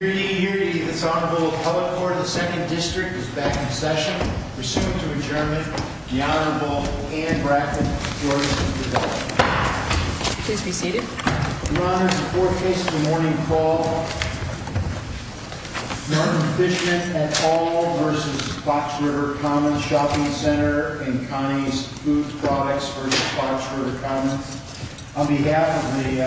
Here to give you the Honorable Public Order of the 2nd District is Bethany Session, pursuant to adjournment, the Honorable Anne Bracken, George C. DeVos. Your Honor, before case of the morning call, Martin Fishman v. Hall v. Fox River Commons Shopping Center and County's Food Products v. Fox River Commons. On behalf of me,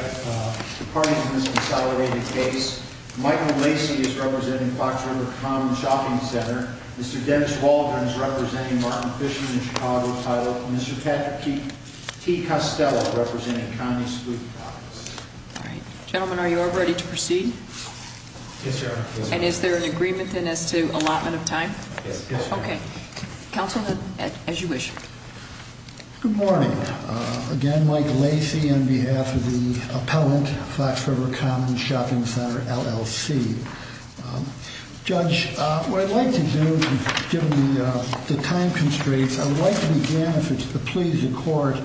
according to this accelerated case, Michael Lacey is representing Fox River Commons Shopping Center. Mr. Dennis Waldron is representing Martin Fishman, Chicago title. Mr. Patrick T. Costello is representing County's Food Products. Gentlemen, are you all ready to proceed? Yes, sir. And is there an agreement as to allotment of time? Yes, there is. Okay. Counsel, as you wish. Good morning. Again, Mike Lacey on behalf of his opponent, Fox River Commons Shopping Center, LLC. Judge, what I'd like to do, given the time constraints, I'd like to begin, if it's to please the Court,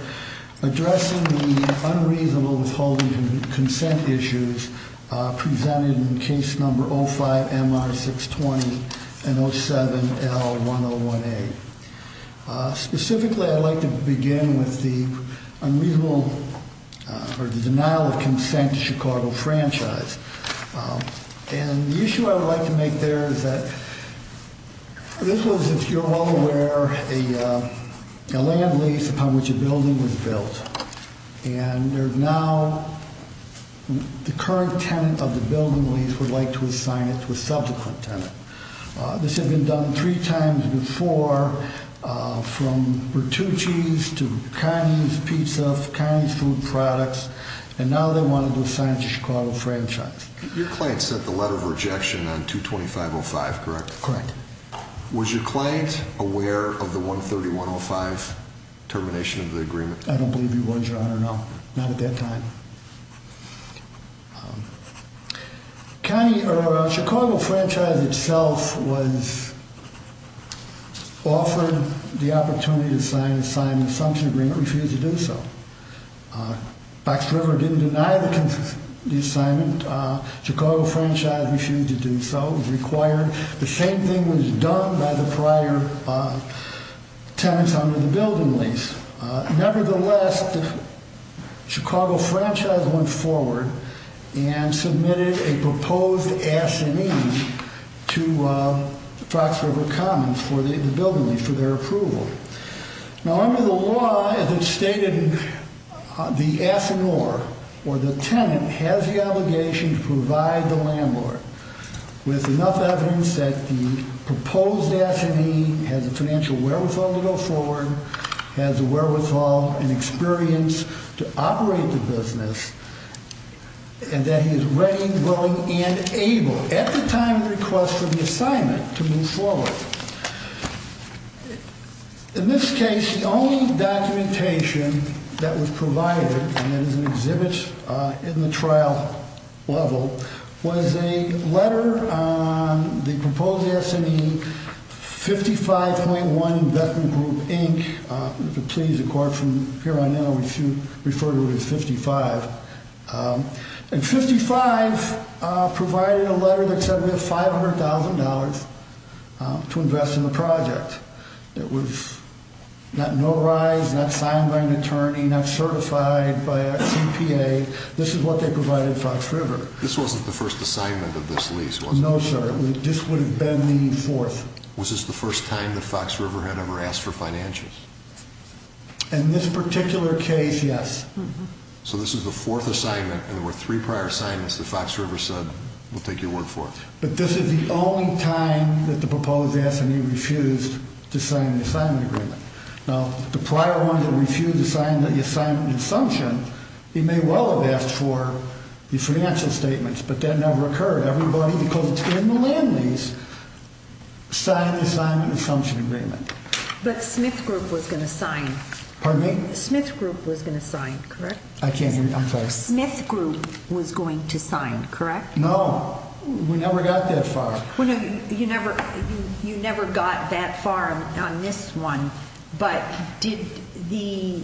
addressing the unreasonable holdings and consent issues presented in case number 05-MR-620-M07-L-101A. Specifically, I'd like to begin with the denial of consent Chicago franchise. And the issue I'd like to make there is that this was, if you're all aware, a land lease upon which a building was built. And there's now the current tenant of the building lease would like to assign it to a subsequent tenant. This had been done three times before, from Bertucci's to County's Pizza, to County's Food Products, and now they want to assign it to Chicago franchise. Your client sent the letter of rejection on 225-05, correct? Correct. Was your client aware of the 131-05 termination of the agreement? I don't believe he was. I don't know. Not at that time. County, or Chicago franchise itself was offered the opportunity to sign an assumption agreement, refused to do so. Fox River didn't deny the assignment. Chicago franchise refused to do so. It was required. The same thing was done by the prior tenant on the building lease. Nevertheless, the Chicago franchise went forward and submitted a proposed affinee to Fox River Commons for the building lease, for their approval. Now under the law, as it's stated, the affineur, or the tenant, has the obligation to provide the landlord with enough evidence that the proposed affinee has financial wherewithal to go forward, has the wherewithal and experience to operate the business, and that he is ready, willing, and able, at the time of request for the assignment, to move forward. In this case, the only documentation that was provided, and there was an exhibit in the trial level, was a letter on the proposed affinee, 55.1 investment group inch. Please, of course, from here on out, we refer to it as 55. And 55 provided a letter that said it was $500,000 to invest in the project. It was not notarized, not signed by an attorney, not certified by a CPA. This is what they provided Fox River. This wasn't the first assignment of this lease, was it? No, sir. This would have been the fourth. Was this the first time that Fox River had ever asked for financials? In this particular case, yes. So this is the fourth assignment, and there were three prior assignments that Fox River said, we'll take your word for it. But this is the only time that the proposed affinee refused to sign the assignment agreement. Now, the prior one that refused to sign the assignment assumption, he may well have asked for the financial statements, but that never occurred. Everybody, because it's in the land lease, signed the assignment assumption immediately. But Smith's group was an assignment. Pardon me? Smith's group was an assignment, correct? I can't hear you. I'm sorry. Smith's group was going to sign, correct? No. We never got that far. You never got that far on this one, but did the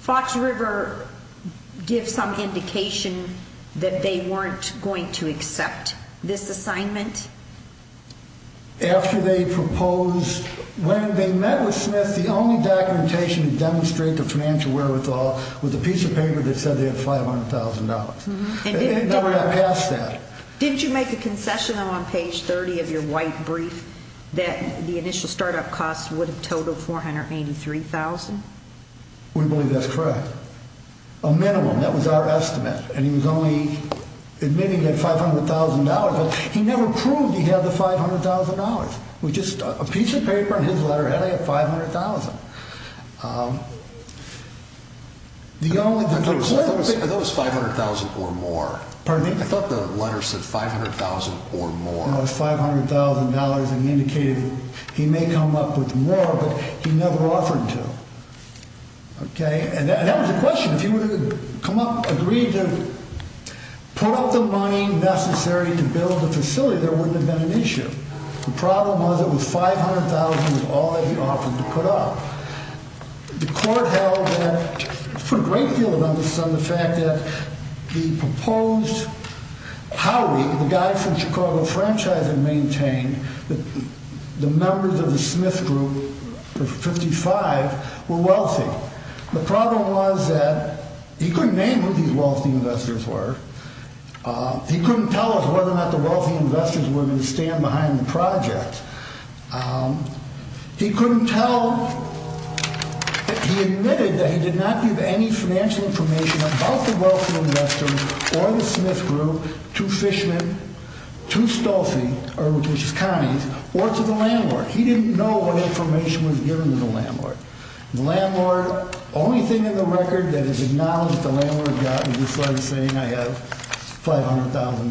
Fox River give some indication that they weren't going to accept this assignment? After they proposed, when they met with Smith, the only documentation to demonstrate their financial wherewithal was a piece of paper that said they had $500,000. They didn't know they were going to pass that. Didn't you make a concession on page 30 of your wife's brief that the initial startup cost would have totaled $483,000? We believe that's correct. A minimum, that was our estimate. Maybe they had $500,000, but he never proved he had the $500,000, which is a piece of paper and his letter had to have $500,000. I thought it was $500,000 or more. Pardon me? I thought the letter said $500,000 or more. $500,000 indicated he may come up with more, but he never offered to. And that's the question. If he were to come up with a reason, put up the money necessary to build the facility, there wouldn't have been an issue. The problem was it was $500,000 is all that he offered to put up. The court held and put a great deal of emphasis on the fact that he proposed how we, the guys from Chicago Franchise, maintained that the members of the Smith Group, the 55, were wealthy. The problem was that he couldn't name who these wealthy investors were. He couldn't tell us whether or not the wealthy investors were going to stand behind the project. He admitted that he did not give any financial information about the wealthy investors or the Smith Group to Fishman, to Stolfi, which was Connie, or to the landlord. He didn't know what information was given to the landlord. The landlord, the only thing in the record that is acknowledged the landlord got was this letter saying I have $500,000.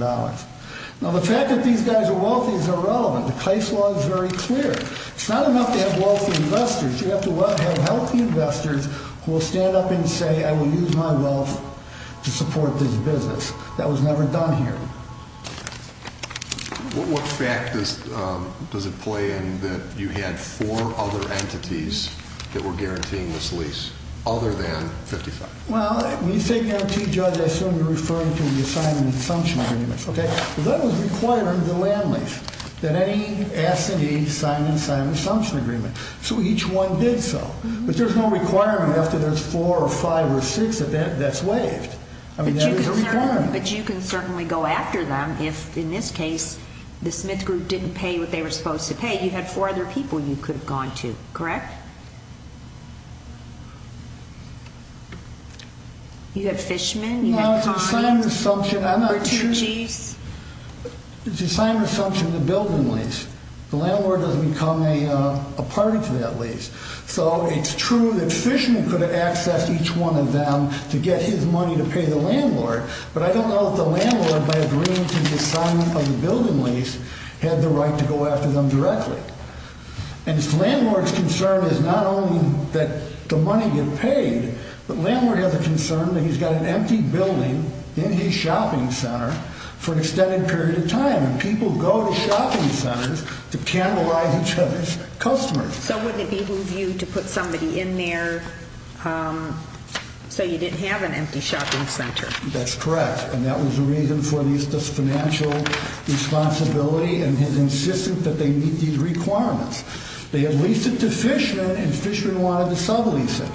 Now the fact that these guys are wealthy is irrelevant. The case law is very clear. It's not enough to have wealthy investors. You have to have healthy investors who will stand up and say I will use my wealth to support this business. That was never done here. What fact does it play in that you had four other entities that were guaranteeing this lease, other than 55? Well, we take guaranteed jobs. That's what we're referring to in the assignment and assumption agreements. That was required under the land lease, that any asset needs signed and signed an assumption agreement. So each one did so. But there's no requirement after there's four or five or six that that's waived. But you can certainly go after them if, in this case, the Smith Group didn't pay what they were supposed to pay. You had four other people you could have gone to, correct? You had Fishman. No, it's an assignment assumption. It's an assignment assumption in the building lease. The landlord doesn't become a part of that lease. So it's true that Fishman could have accessed each one of them to get his money to pay the landlord. But I don't know if the landlord, by agreeing to the assignment of the building lease, had the right to go after them directly. And the landlord's concern is not only that the money gets paid, but the landlord has a concern that he's got an empty building, empty shopping center, for an extended period of time. People go to shopping centers to cannibalize each other's customers. So was it their view to put somebody in there so you didn't have an empty shopping center? That's correct. And that was the reason for Lisa's financial responsibility and his insistence that they meet these requirements. They had leased it to Fishman, and Fishman wanted to sell Lisa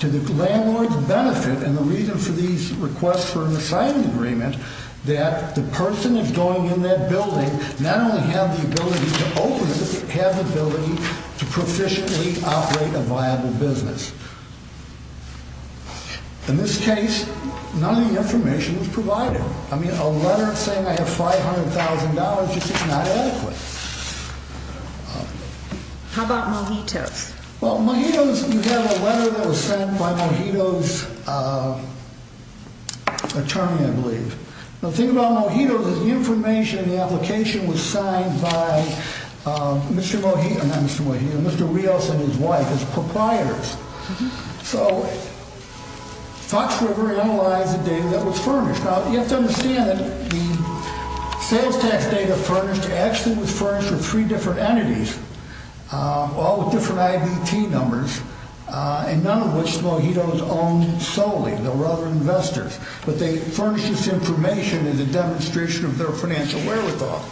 to the landlord's benefit. And the reason for these requests for an assignment agreement, that the person who's going in that building now has the ability to always have the ability to proficiently operate a viable business. In this case, none of the information is provided. I mean, a letter saying I have $500,000 is just not adequate. How about Mojito? Well, Mojito is, you have a letter that was sent by Mojito's attorney, I believe. The thing about Mojito is the information in the application was signed by Mr. Mojito, not Mr. Mojito, Mr. Rios and his wife, his proprietors. So Fox River analyzed the data that was furnished. Now, you have to understand that he gave that data furnished. Actually, it was furnished for three different entities. All with different IVP numbers, and none of which Mojito's owned solely. They were other investors. But they furnished this information as a demonstration of their financial wherewithal.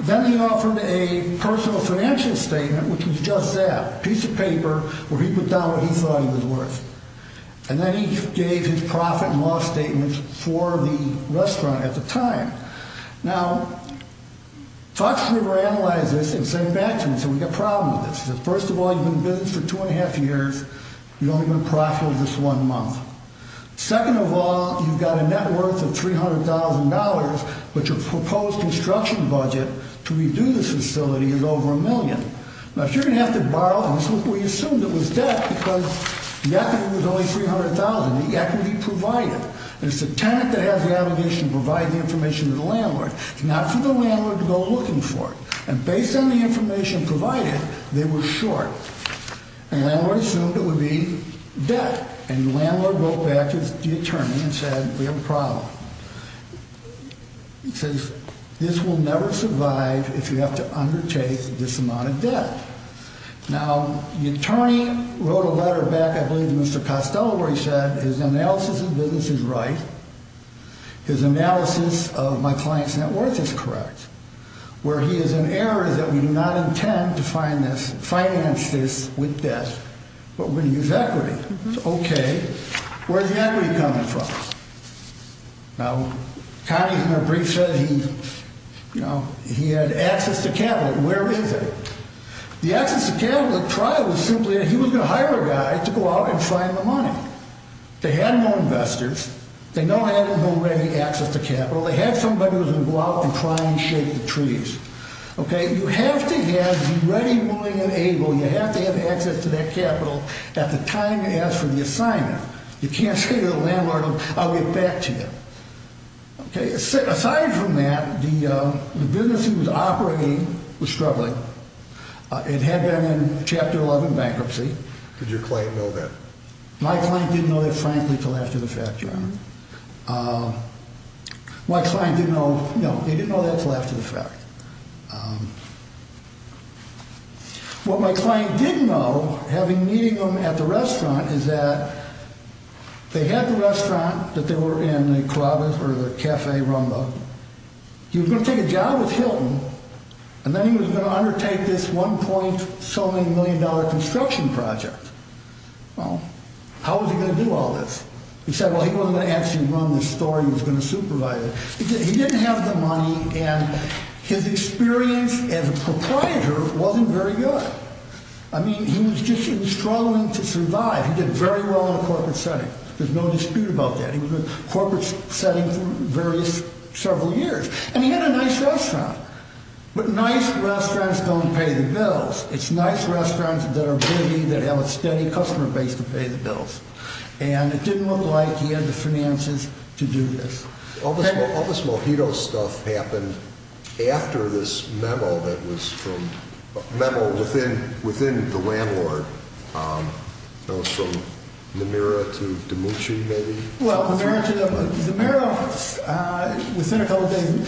Then he offered a personal financial statement, which was just that. A piece of paper where he could tell what he thought it was worth. And then he gave his profit and loss statements for the restaurant at the time. Now, Fox River analyzed this and sent it back to us, and we got problems. First of all, he's been in business for two and a half years. He's only going to profit in this one month. Second of all, you've got a net worth of $300,000, but your proposed construction budget to redo this facility is over a million. Now, if you're going to have to borrow, we assumed it was debt because the equity was only $300,000. The equity provided. There's the tenant that has the aggregation providing information to the landlord. It's not for the landlord to go looking for. And based on the information provided, they were short. And then we assumed it would be debt. And the landlord wrote back to the attorney and said, we have a problem. He says, this will never survive if you have to undertake this amount of debt. Now, the attorney wrote a letter back, I believe Mr. Costello, where he said his analysis of business is right. His analysis of my client's net worth is correct. Where he has an error that we do not intend to finance this with debt. But we're going to use equity. Okay. Where's the equity coming from? Now, Connie's going to brief us. He had access to capital. Where is it? The access to capital trial was simply that he was going to hire a guy to go out and find the money. They had no investors. They no longer had access to capital. They had somebody who was going to go out and find and shake the trees. Okay. You have to have ready, willing, and able. You have to have access to that capital at the time you ask for the assignment. You can't say to the landlord, I'll get back to you. Okay. Aside from that, the business he was operating was struggling. It had been in Chapter 11 bankruptcy. Did your client know that? My client didn't know that, frankly, for lack of a fact, John. My client didn't know, no, he didn't know that for lack of a fact. What my client did know, having meeting him at the restaurant, is that they had the restaurant, that they were in the club or the cafe rumba. He was going to take a job with Hilton, and then he was going to undertake this $1.7 million construction project. Well, how was he going to do all this? He said, well, he wasn't going to actually run the store. He was going to supervise it. He didn't have the money, and his experience as a proprietor wasn't very good. I mean, he was just struggling to survive. He did very well in the corporate setting. There's no dispute about that. He was in the corporate setting for several years. And he had a nice restaurant. But nice restaurants don't pay the bills. It's nice restaurants that are pretty, that have a steady customer base, that pay the bills. And it didn't look like he had the finances to do this. All this Mojito stuff happened after this memo that was from, a memo within the landlord, from Nomura to Demucci, maybe? Well, Nomura, within a building.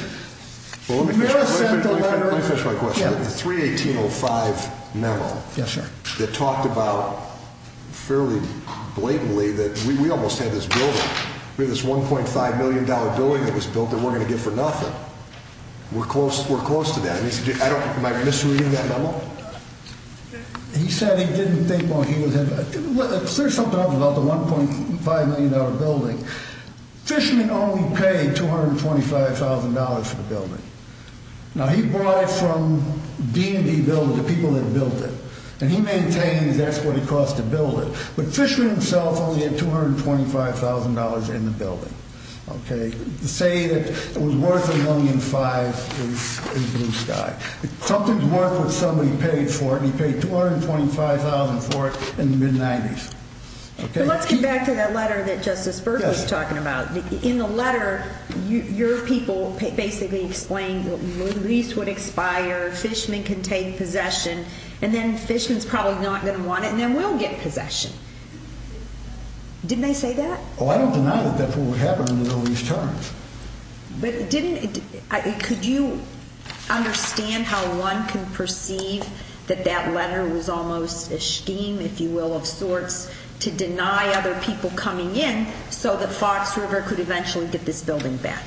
Let me finish my question. The 318.05 memo that talked about fairly blatantly that we almost had this building. We had this $1.5 million building that was built and we're going to get for nothing. We're close to that. Am I misreading that memo? He said he didn't think when he was in there. Let me clear something up about the $1.5 million building. Fishman only paid $225,000 for the building. Now, he bought it from B&B builders, the people that built it. And he maintained that's what it cost to build it. But Fishman himself only had $225,000 in the building. Say it was worth $1.5 million in stock. Something's worth what somebody paid for it, and he paid $225,000 for it in the mid-'90s. Let's come back to that letter that Justice Berkley was talking about. In the letter, your people basically explained what you mean. Lease would expire, Fishman could take possession, and then Fishman's probably not going to want it, and then we'll get a possession. Didn't they say that? Well, I don't deny that that's what would happen in the release terms. But didn't it? Could you understand how one can perceive that that letter was almost a scheme, if you will, of sorts, to deny other people coming in so that Fox River could eventually get this building back?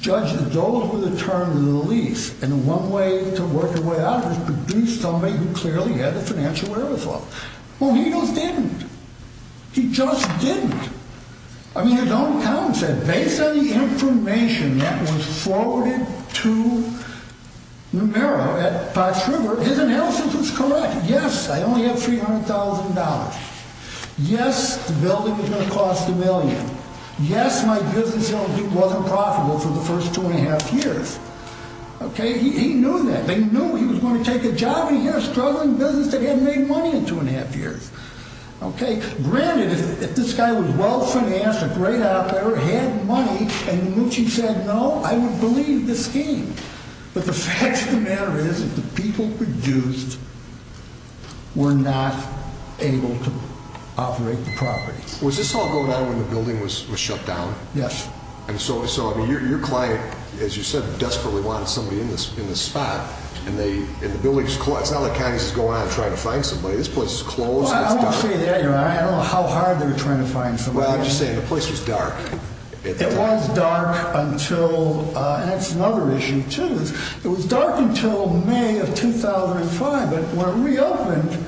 Judge, those were the terms of the release. And one way to work your way out would be somebody who clearly had the financial will as well. Well, he didn't. He just didn't. I mean, his own account said, based on the information that was forwarded to Numero at Fox River, his analysis was correct. Yes, I only had $300,000. Yes, the building was going to cost a million. Yes, my business was unprofitable for the first two and a half years. Okay, he knew that. They knew he was going to take a job. He had a struggling business. They hadn't made money in two and a half years. Okay, granted, if this guy was well-financed, a great authority, had money, and in which he said no, I would believe this scheme. But the fact of the matter is that the people produced were not able to operate the property. Was this all going on when the building was shut down? Yes. And so your client, as you said, desperately wanted somebody in the spot. And the building is closed. It's not like Congress is going out and trying to find somebody. This place is closed. Well, I'm not saying that. I don't know how hard they were trying to find somebody. Well, I'm just saying the place was dark. It was dark until – and that's another issue, too. It was dark until May of 2005. It reopened.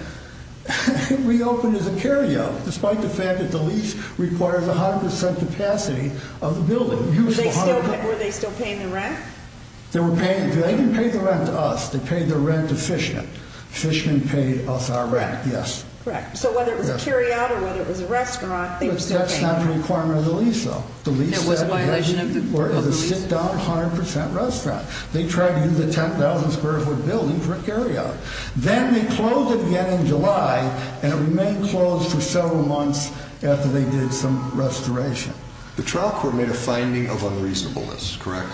It reopened as a carry-out, despite the fact that the lease requires 100% capacity of the building. Were they still paying the rent? They didn't pay the rent to us. They paid the rent to Fishman. Fishman paid us our rent, yes. Correct. So whether it was a carry-out or whether it was a restaurant, it was the same. That's not a requirement of the lease, though. It was a violation of the property. It was a sit-down 100% restaurant. They tried to do the 10,000 square foot building for a carry-out. Then they closed it again in July, and it remained closed for several months after they did some restoration. The trial court made a finding of unreasonableness, correct?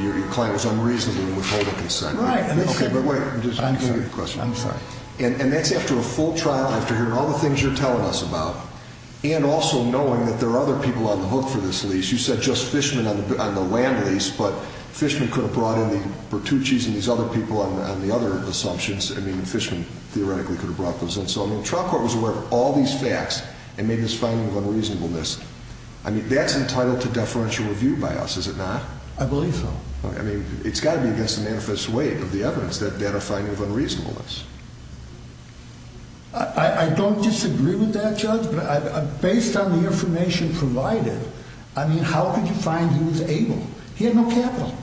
Your client was unreasonably withholding consent. Right. Okay, but wait. I'm sorry. And that's after a full trial, after hearing all the things you're telling us about, and also knowing that there are other people on the hook for this lease. You said just Fishman on the land lease, but Fishman could have brought in the Bertucci's and these other people on the other assumptions. I mean, Fishman theoretically could have brought those in. So, I mean, the trial court was aware of all these facts and made this finding of unreasonableness. I mean, that's entitled to deferential review by us, is it not? I believe so. I mean, it's got to be against the manifest way of the evidence, that data finding of unreasonableness. I don't disagree with that, Judge, but based on the information provided, I mean, how could you find who was able? He had no capital.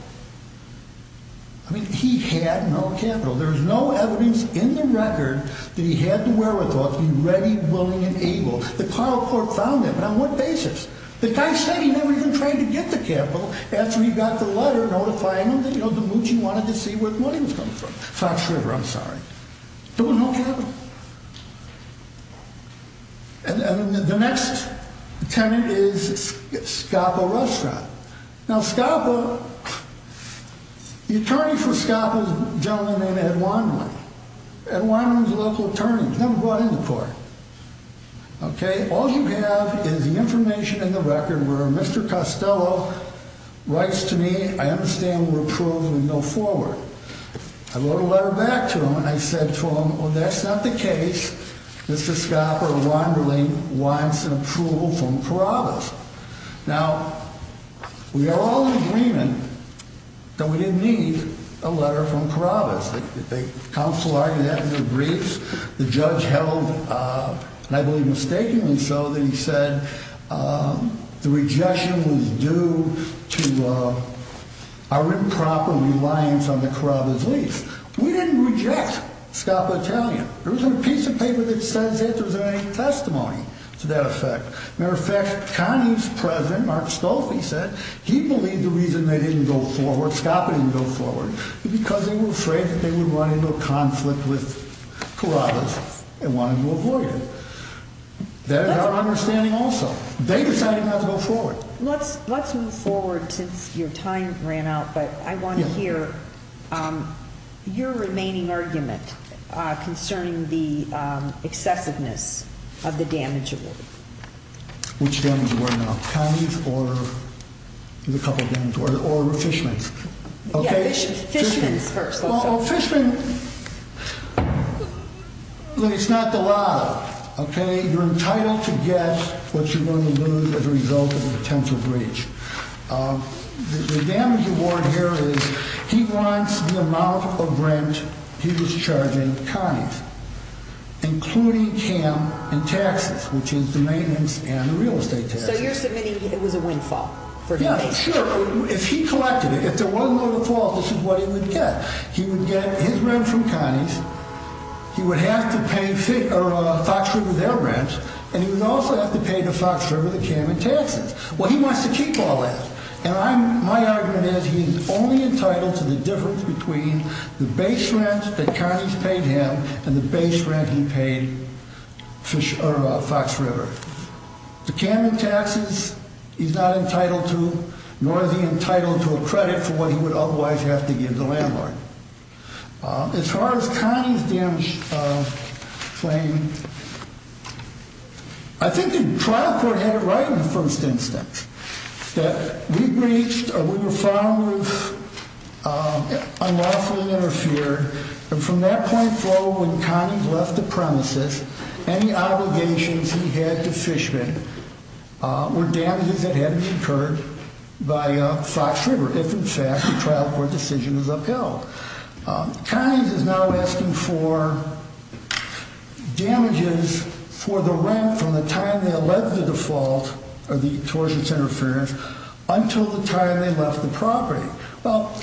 I mean, he had no capital. There was no evidence in the record that he had the wherewithal to be ready, willing, and able. The trial court found him. On what basis? The guy said he'd never even tried to get the capital after he got the letter notifying him that Bertucci wanted to see where the money was coming from. So, I'm sure of it. I'm sorry. So, no capital. And the next tenant is Scabbo Restaurant. Now, Scabbo, the attorney for Scabbo is a gentleman named Ed Weinman. Ed Weinman is a local attorney. He's never brought in the court. Okay? All you have is the information in the record where Mr. Costello writes to me, I understand we're approved and we move forward. I wrote a letter back to him, and I said to him, well, that's not the case. Mr. Scabbo Wanderling wants an approval from Corrales. Now, we are all in agreement that we didn't need a letter from Corrales. The counsel argued that in the briefs. The judge held, and I believe mistakenly so, that he said the rejection was due to our improper reliance on the Corrales lease. We didn't reject Scabbo telling him. There wasn't a piece of paper that said there wasn't any testimony to that effect. Matter of fact, Connie's present. Mark spoke. He said he believed the reason they didn't go forward, Scabbo didn't go forward, was because he was afraid that they were running into a conflict with Corrales and wanted to avoid it. That is our understanding also. They decided not to go forward. Let's move forward since your time has ran out, but I want to hear your remaining argument concerning the acceptableness of the damage award. Which damage award now? Connie's or the Fishman? Yes, Fishman first. Well, Fishman, it's not the law, okay? You're entitled to guess what you're going to lose as a result of an intensive breach. The damage award here is he wants the amount of rent he was charging Connie, including Cam and taxes, which is the maintenance and the real estate taxes. So you're submitting it was a windfall? No, sure. If he collected it, if there was a windfall, this is what he would get. He would get his rent from Connie, he would have to pay FOXFER with their rent, and he would also have to pay FOXFER with Cam and taxes. Well, he wants to keep all that. And my argument is he's only entitled to the difference between the base rent that Connie's paid him and the base rent he paid FOXFER. The Cam and taxes, he's not entitled to, nor is he entitled to a credit for what he would otherwise have to give the landlord. As far as Connie's claims, I think the trial court had it right in the first instance that we breached or we were found to have unlawfully interfered, and from that point forward when Connie left the premises, any obligations he had to fishermen were damages that had been incurred by FOXFER. In fact, the trial court decision was upheld. Connie is now asking for damages for the rent from the time that led to the default or the choice of interference until the time they left the property. Well,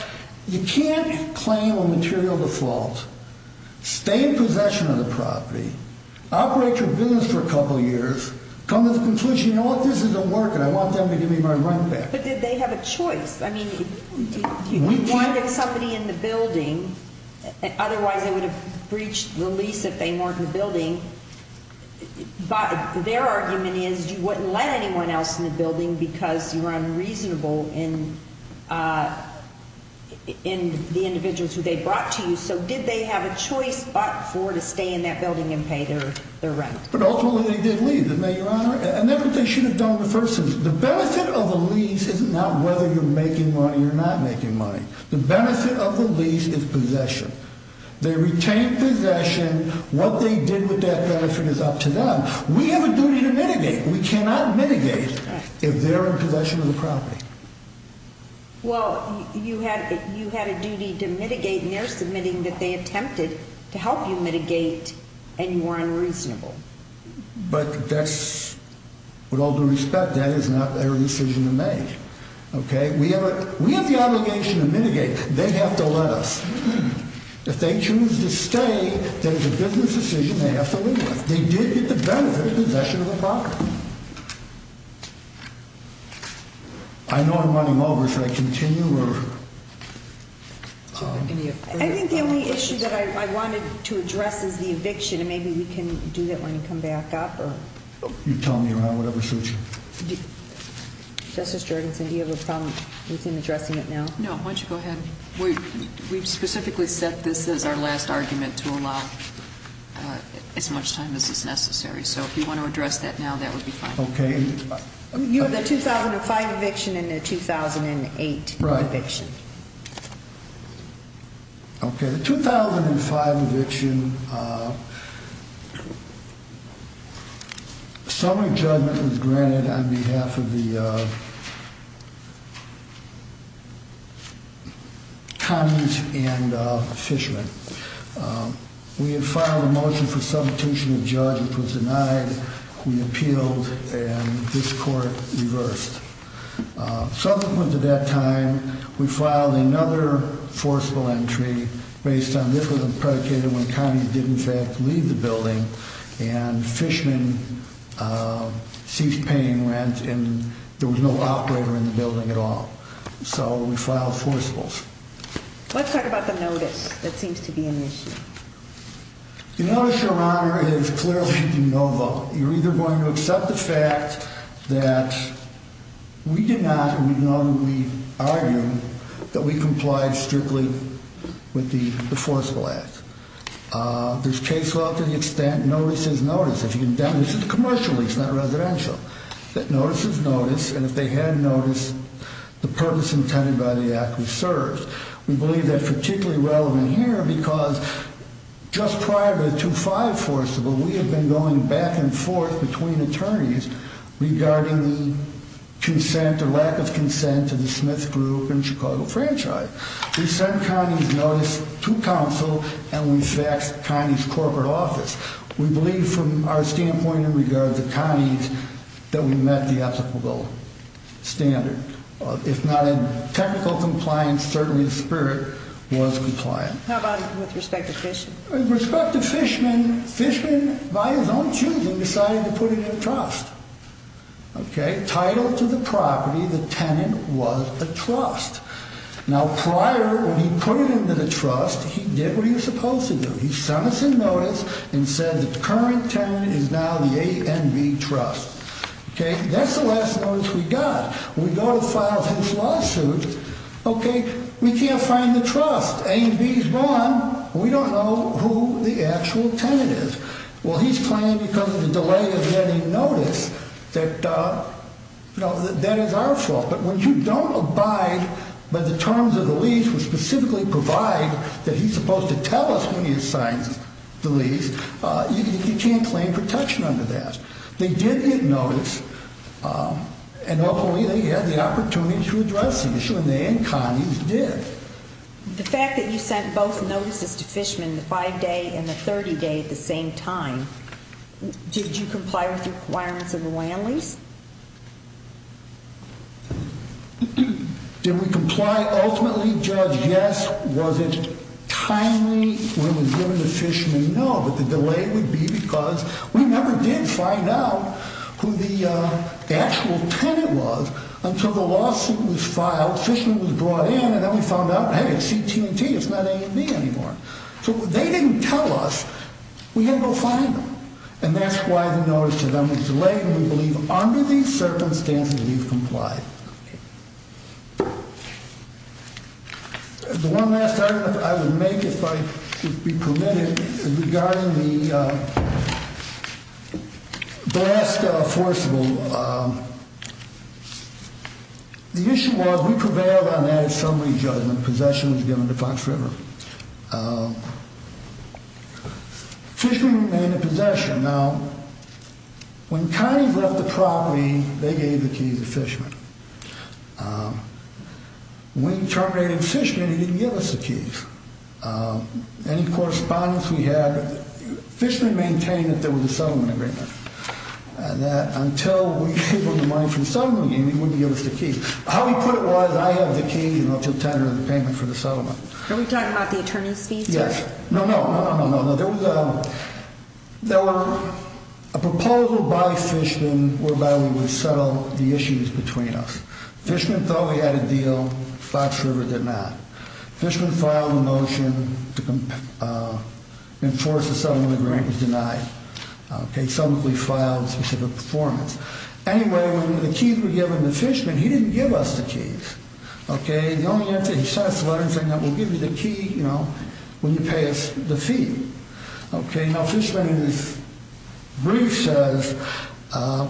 you can't claim a material default, stay in possession of the property, operate your business for a couple of years, come to the conclusion, you know what, this isn't working, I want them to give me my rent back. But did they have a choice? I mean, if you wanted a company in the building, otherwise they would have breached the lease if they weren't in the building, but their argument is you wouldn't let anyone else in the building because you were unreasonable in the individuals who they brought to you, so did they have a choice, FOXFER, to stay in that building and pay their rent? But ultimately they did leave, didn't they, Your Honor? And that's what they should have done with the person. The benefit of the lease is not whether you're making money or not making money. The benefit of the lease is possession. They retained possession. What they did with that person is up to them. We have a duty to mitigate. We cannot mitigate if they're in possession of the property. Well, you had a duty to mitigate, and they're submitting that they attempted to help you mitigate and you were unreasonable. But that's with all due respect, that is not their decision to make. Okay? We have the obligation to mitigate. They have to let us. If they choose to stay, there's a business decision they have to make. They did get the benefit of possession of the property. I know I'm running over. Can I continue? I think the only issue that I wanted to address was the eviction, and maybe we can do that when we come back up. You tell me, Your Honor, whatever suits you. Justice Jorgensen, do you have a comment? We can address it now. No, why don't you go ahead. We specifically set this as our last argument to allow as much time as is necessary. So if you want to address that now, that would be fine. Okay. You had the 2005 eviction and the 2008 eviction. Right. Okay, the 2005 eviction, summary judgment is granted on behalf of the cons and fishermen. We had filed a motion for substitution of judge. It was denied. We appealed, and this court reversed. Subsequent to that time, we filed another forcible entry based on this was a predicated when Connie didn't have to leave the building, and fishermen keep paying rent and there was no operator in the building at all. So we filed forcibles. Let's talk about the notice that seems to be an issue. The notice, Your Honor, is clearly no vote. So you're either going to accept the fact that we did not, and we know the argument, that we complied strictly with the forcible act. This case, though, to the extent notice is notice. This is commercial. It's not residential. Notice is notice, and if they hadn't noticed, the purpose intended by the act is served. We believe that's particularly relevant here because just prior to the 2005 forcible, we had been going back and forth between attorneys regarding consent, the lack of consent to the Smith Group and Chicago Franchise. We sent Connie's notice to counsel, and we faxed Connie's corporate office. We believe from our standpoint in regard to Connie's that we met the ethical standard. If not in technical compliance, certainly the spirit was compliant. How about with respect to fishermen? With respect to fishermen, fishermen, by his own choosing, decided to put it in a trust. Title to the property, the tenant was a trust. Now prior, when he put it into the trust, he did what he was supposed to do. He sent us a notice and said the current tenant is now the A&B Trust. That's the last notice we got. We go to file his lawsuit. We can't find the trust. A&B is gone. We don't know who the actual tenant is. Well, he's claiming because of the delay of getting notice that that is our fault. But when you don't abide by the terms of the lease, which specifically provide that he's supposed to tell us when he's signing the lease, you can't claim protection under that. They did get notice, and hopefully they had the opportunity to address it. And Connie did. The fact that you sent both notices to fishermen, the 5-day and the 30-day at the same time, did you comply with the requirements of the land lease? Did we comply ultimately, Judge? Yes. Was it timely when it was given to fishermen? No. But the delay would be because we never did find out who the actual tenant was. And so the lawsuit was filed, fishermen was brought in, and then we found out, hey, it's CT&T. It's not A&B anymore. So they didn't tell us. We didn't go find them. And that's why the notice to them is delayed, and we believe under these circumstances we've complied. The one last argument I would make, if I could be permitted, is regarding the blast-scale force rule. The issue was we prevailed on that in summary, Judge, when possession was given to Fox River. Fishermen remained in possession. Now, when County brought the property, they gave the key to the fishermen. When the property was given to the fishermen, they didn't give us the key. In correspondence we had fishermen maintain that there was a settlement agreement, and that until we were able to learn from someone, they wouldn't give us the key. How to put it was I have the key to the tenant and the payment for the settlement. Are we talking about the attorney's fee? Yes. No, no. There was a proposal by the fishermen whereby we would settle the issues between us. Fishermen thought we had a deal. Fox River did not. Fishermen filed a motion to enforce a settlement agreement. It was denied. Okay, so we filed a performance. Anyway, when the keys were given to the fishermen, he didn't give us the keys. Okay, you only have to sign the letters, and then we'll give you the key when you pay the fee. Okay, now Fishermen's brief says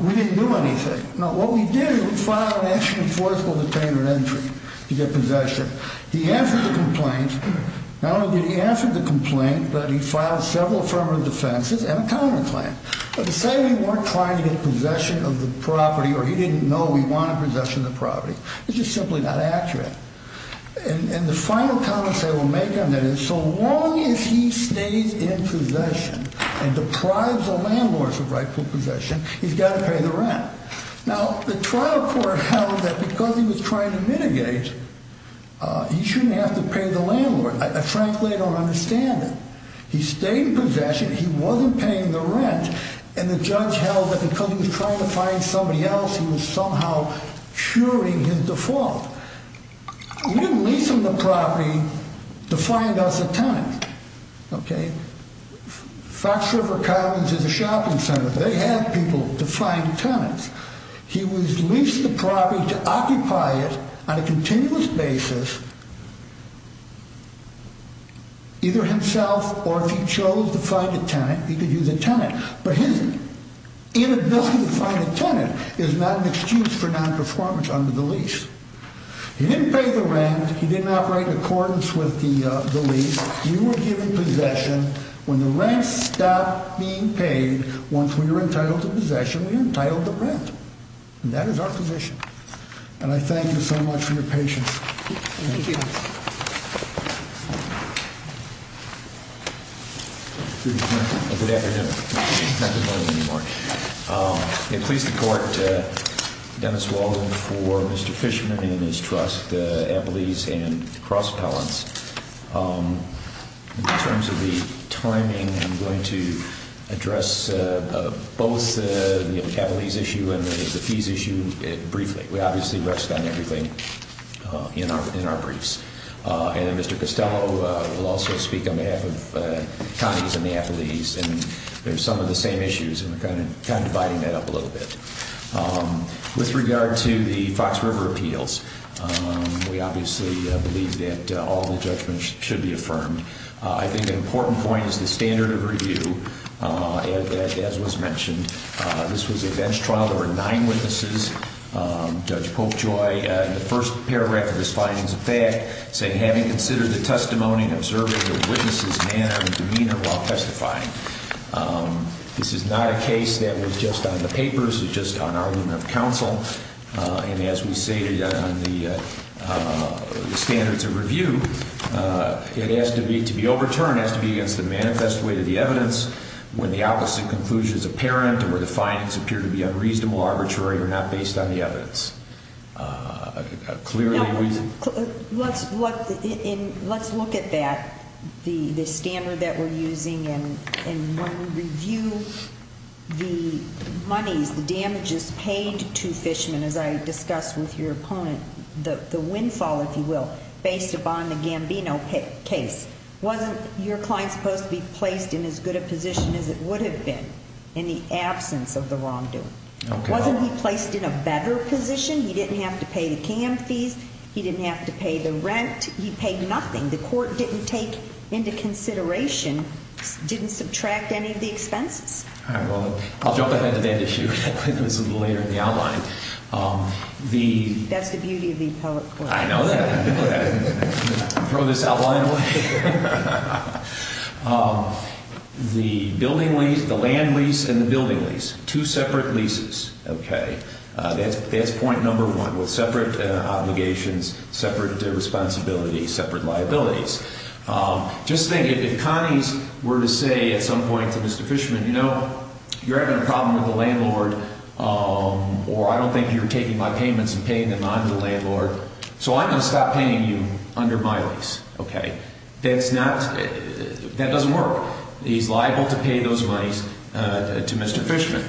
we didn't do anything. Now, what we did is we filed an action for the tenant entry to get possession. He answered the complaint. Not only did he answer the complaint, but he filed several affirmative defenses and a counterclaim. But he said we weren't trying to get possession of the property, or he didn't know we wanted possession of the property. This is simply not accurate. And the final comment that we'll make on that is so long as he stays in possession and deprives the landlord the right to possession, he's got to pay the rent. Now, the trial court held that because he was trying to mitigate, he shouldn't have to pay the landlord. I frankly don't understand that. He stayed in possession. He wasn't paying the rent. And the judge held that because he was trying to find somebody else, he was somehow assuring his default. We didn't lease him the property to find us a tenant. Okay? Fox River Cottings is a shopping center. They had people to find tenants. He was leased the property to occupy it on a continuous basis, either himself or if he chose to find a tenant, he could use a tenant. For him, inability to find a tenant is not an excuse for nonperformance under the lease. He didn't pay the rent. He didn't operate in accordance with the lease. You were given possession. When the rent stopped being paid, once we were entitled to possession, we were entitled to rent. And that is our position. And I thank you so much for your patience. Thank you. Thank you. Good afternoon. Good afternoon. Please support Dennis Walden for Mr. Fishman and his trust, Applebee's and Cross Palms. In terms of the timing, I'm going to address both the Applebee's issue and the fees issue briefly. We obviously rest on everything in our prints. And Mr. Costello will also speak on the Applebee's and there are some of the same issues. I'm kind of lighting that up a little bit. With regard to the Fox River appeals, we obviously believe that all the judgments should be affirmed. I think an important point is the standard of review, as was mentioned. This was a bench trial. There were nine witnesses. Judge Popejoy, in the first pair record of his findings of fact, said having considered the testimony and observing those witnesses' manner and demeanor while testifying. This is not a case that was just on the papers. It was just on argument of counsel. And as we stated on the standards of review, it has to be, to be overturned, it has to be as the manifest way to the evidence, when the opposite conclusion is apparent, and where the findings appear to be unreasonable, arbitrary, or not based on the evidence. Clearly, we did. Let's look at that, the standard that we're using, and when we review the money, the damages paid to Fishman, as I discussed with your opponent, the windfall, if you will, based upon the Gambino case. Wasn't your client supposed to be placed in as good a position as it would have been, in the absence of the wrongdoing? Wasn't he placed in a better position? He didn't have to pay the PM fees. He didn't have to pay the rent. He paid nothing. The court didn't take into consideration, didn't subtract any of the expenses. All right. Well, I'll jump on that a bit. I think it was a little later in the outline. That's the beauty of these public courts. I know that. Throw this outline away. The building lease, the land lease, and the building lease, two separate leases. Okay. That's point number one, with separate obligations, separate responsibilities, separate liabilities. Just think, if the Connie's were to say at some point to Mr. Fishman, you know, you're having a problem with the landlord, or I don't think you're taking my payments and paying them on delay, Lord, so I'm going to stop paying you under my lease. Okay. That doesn't work. He's liable to pay those monies to Mr. Fishman.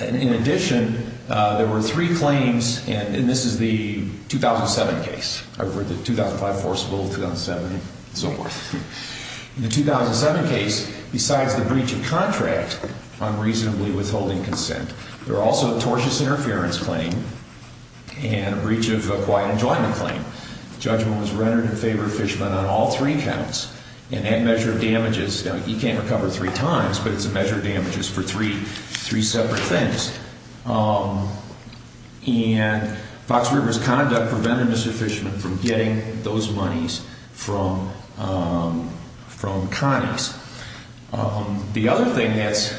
In addition, there were three claims, and this is the 2007 case, or the 2005, 2004, 2007, and so forth. In the 2007 case, besides the breach of contract, unreasonably withholding consent, there were also a tortious interference claim and a breach of a quiet enjoyment claim. Judgment was rendered in favor of Fishman on all three counts, and that measured damages. He can't recover three times, but it's a measure of damages for three separate things. And Fox River's conduct prevented Mr. Fishman from getting those monies from Connie's. The other thing is,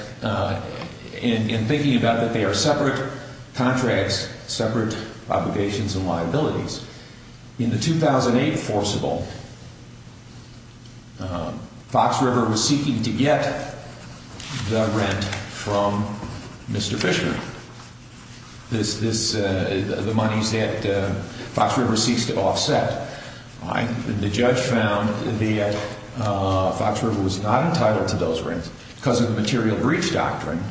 in thinking about that they are separate contracts, separate obligations and liabilities, in the 2008 forcible, Fox River was seeking to get the rent from Mr. Fishman, the monies that Fox River seeks to offset. The judge found that Fox River was not entitled to those rents because of the material breach doctrine,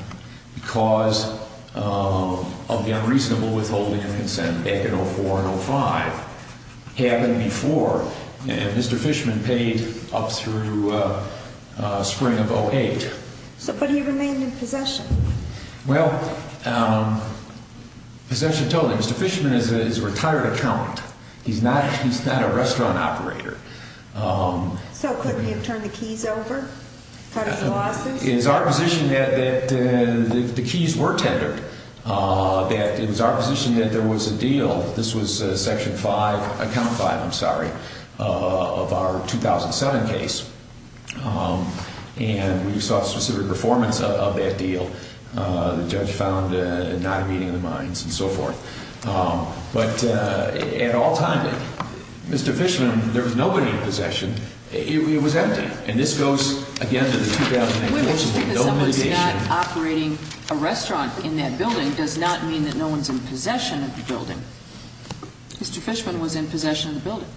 because of the unreasonable withholding of consent back in 2004 and 2005. It happened before. Mr. Fishman paid up through spring of 2008. But he remained in possession. Well, Mr. Fishman is a retired attorney. He's not a restaurant operator. So couldn't he have turned the keys over? It's our position that the keys were tendered. It was our position that there was a deal. This was Section 5, Account 5, I'm sorry, of our 2007 case. And we saw a specific performance of that deal. The judge found a non-meeting of the minds and so forth. But at all times, Mr. Fishman, there was nobody in possession. It was empty. And this goes, again, to the 2008 case. Operating a restaurant in that building does not mean that no one is in possession of the building. Mr. Fishman was in possession of the building.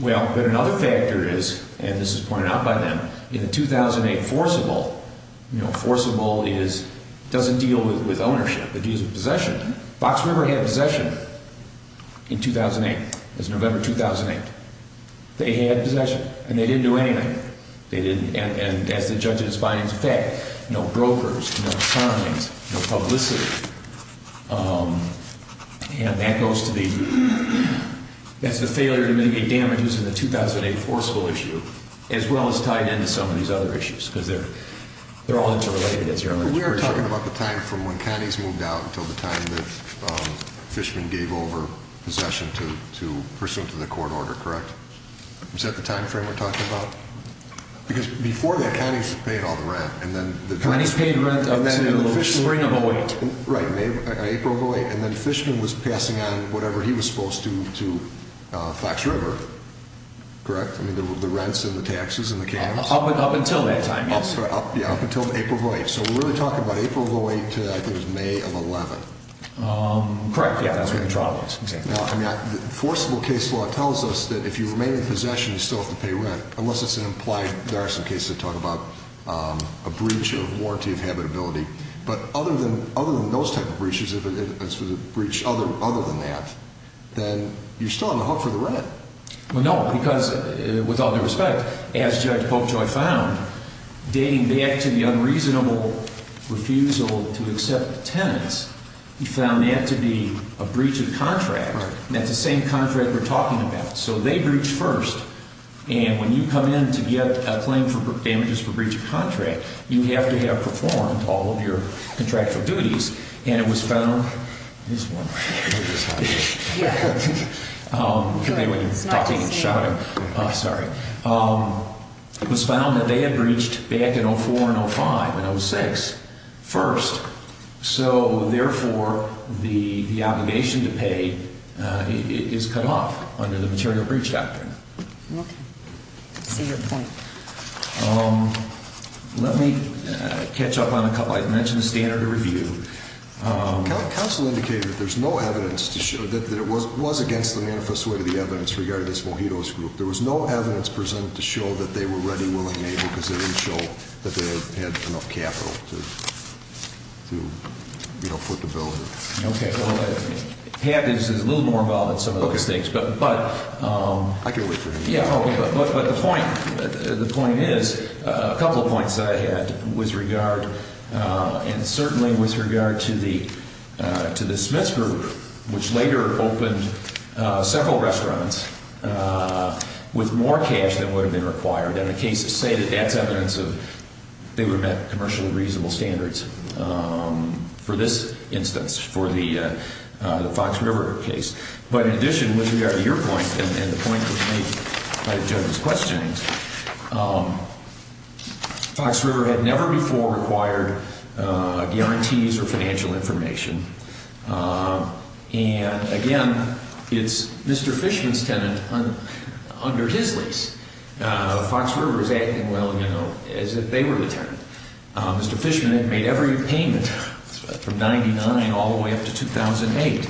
Well, another factor is, and this is pointed out by them, in the 2008 forcible, you know, forcible doesn't deal with ownership. It deals with possession. Fox River had possession in 2008. It was November 2008. They had possession, and they didn't do anything. And as the judges find, in fact, no brokers, no attorneys, no publicity. And that goes to the failure to make damages in the 2008 forcible issue, as well as tied into some of these other issues because they're all interrelated. We're talking about the time from when Connie's moved out to the time that Fishman gave over possession to pursuant to the court order, correct? Is that the time frame we're talking about? Because before that, Connie was paying all the rent. Connie's paying rent on April the 8th. Right, April the 8th. And then Fishman was passing on whatever he was supposed to to Fox River, correct? The rents and the taxes and the cabs. Up until that time, yes. Up until April the 8th. So we're really talking about April the 8th to, I think, May of 11th. Correct, yeah. That's right. Now, the forcible case law tells us that if you remain in possession, you still have to pay rent, unless it's an implied variation case to talk about a breach of warranty of habitability. But other than those type of breaches, if it's a breach other than that, then you're still on the hook for the rent. Well, no, because, with all due respect, as Judge Bolchoy found, dating back to the unreasonable refusal to accept a tenant, he found that to be a breach of contract. That's the same contract we're talking about. So they breached first. And when you come in to get a claim for damages for breach of contract, you have to have performed all of your contractual duties. And it was found, It was found that they had breached back in 04 and 05, in 06, first. So, therefore, the obligation to pay is cut off under the material breach doctrine. Okay. I mentioned standard review. Counsel indicated that there's no evidence to show that it was against the manifest way to the evidence regarded as Mojito's group. There was no evidence presented to show that they were ready, willing, and able because they didn't show that they had enough capital to, you know, put the bill through. Okay. Habit is a little more involved in some of those things. But the point is, A couple of points I had with regard, and certainly with regard to the Smith's group, which later opened several restaurants with more cash than would have been required. And the case stated at that instance they would have commercially reasonable standards for this instance, for the Fox River case. But in addition, with regard to your point, and the point that was made by the gentleman's question, Fox River had never before required guarantees for financial information. And, again, is Mr. Fishkin's tenant under his risk? Fox River is acting well, you know, as if they were the tenant. Mr. Fishkin had made every payment from 1999 all the way up to 2008.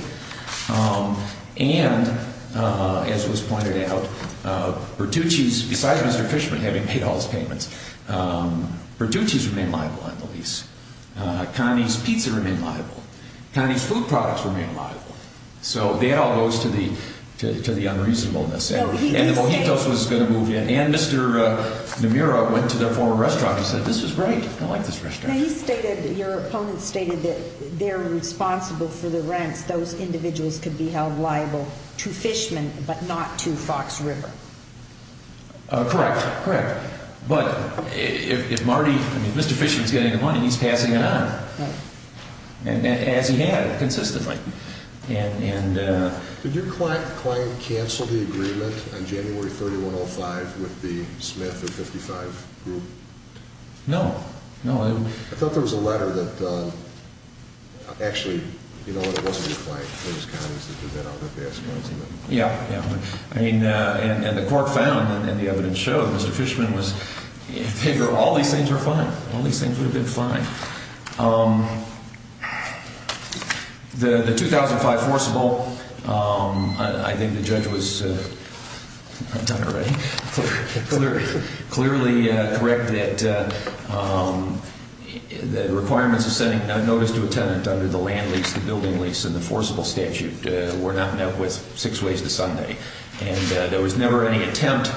And, as was pointed out, Bertucci's, besides Mr. Fishkin having paid all his payments, Bertucci's remained liable on the lease. Kearney's pizza remained liable. Kearney's food products remained liable. So bail goes to the unreasonableness. And Mr. Nomura went to the former restaurant and said, this is great, I like this restaurant. Can you say that your opponent stated that they're responsible for the rent, those individuals could be held liable to Fishkin, but not to Fox River? Correct, correct. But if Mr. Fishkin's getting the money, he's passing it on. And he has, consistently. Did your client cancel the agreement on January 31, 2005, with the Smith of 55 group? No, no. I thought there was a letter that actually, you know, it wasn't your client, it was Kearney's, that he went out and advanced the agreement. Yeah, yeah. I mean, and the court found, and the evidence showed, that Fishkin was, hey, all these things were fine. All these things would have been fine. The 2005 forcible, I think the judge was clearly correct, that the requirements to send a notice to a tenant under the land lease, the building lease, and the forcible statute were not met with six weeks of Sunday. And there was never any attempt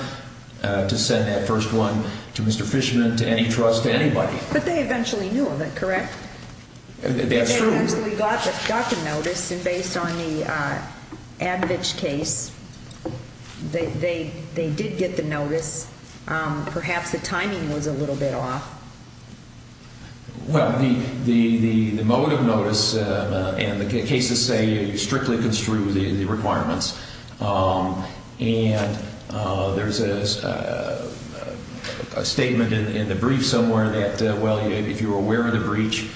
to send that first one to Mr. Fishkin, to any trust, to anybody. But they eventually knew of it, correct? That's true. And so we got the second notice, and based on the admixture case, they did get the notice. Perhaps the timing was a little bit off. Well, the moment of notice, and the cases say, it was strictly construed in the requirements. And there's a statement in the brief somewhere that, well, if you were aware of the breach,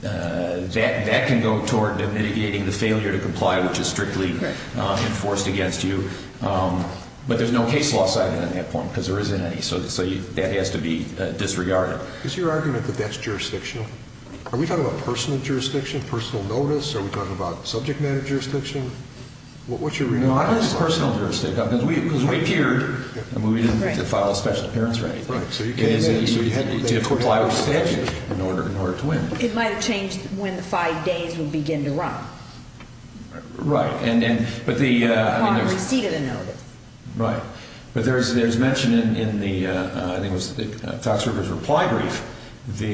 that can go toward them deviating the failure to comply, which is strictly enforced against you. But there's no case loss item at that point, because there isn't any. So that has to be disregarded. Is your argument that that's jurisdiction? Are we talking about personal jurisdiction, personal notice? Are we talking about subject matter jurisdiction? What's your argument? No, I don't think it's personal jurisdiction. Because we appeared, and we didn't get to file a special appearance, right? Right. So you had to comply with the statute in order to win. It might have changed when the five days would begin to run. Right. Upon receipt of the notice. Right. But it was mentioned in the, I think it was the tax reviewer's reply brief,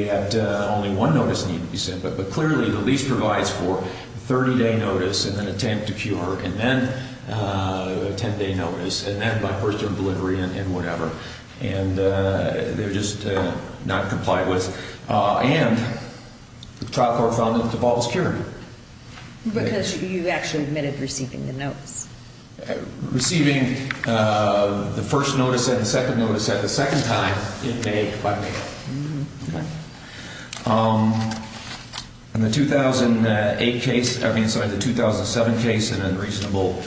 that only one notice needed to be sent. But clearly the lease provides for a 30-day notice and an attempt to cure, and then a 10-day notice, and then by first involuntary and whatever. And they're just not complied with. And the top requirements of all security. Because you actually admitted receiving the note. Receiving the first notice and the second notice at the second time, In the 2008 case, I mean, sorry, the 2007 case, an unreasonable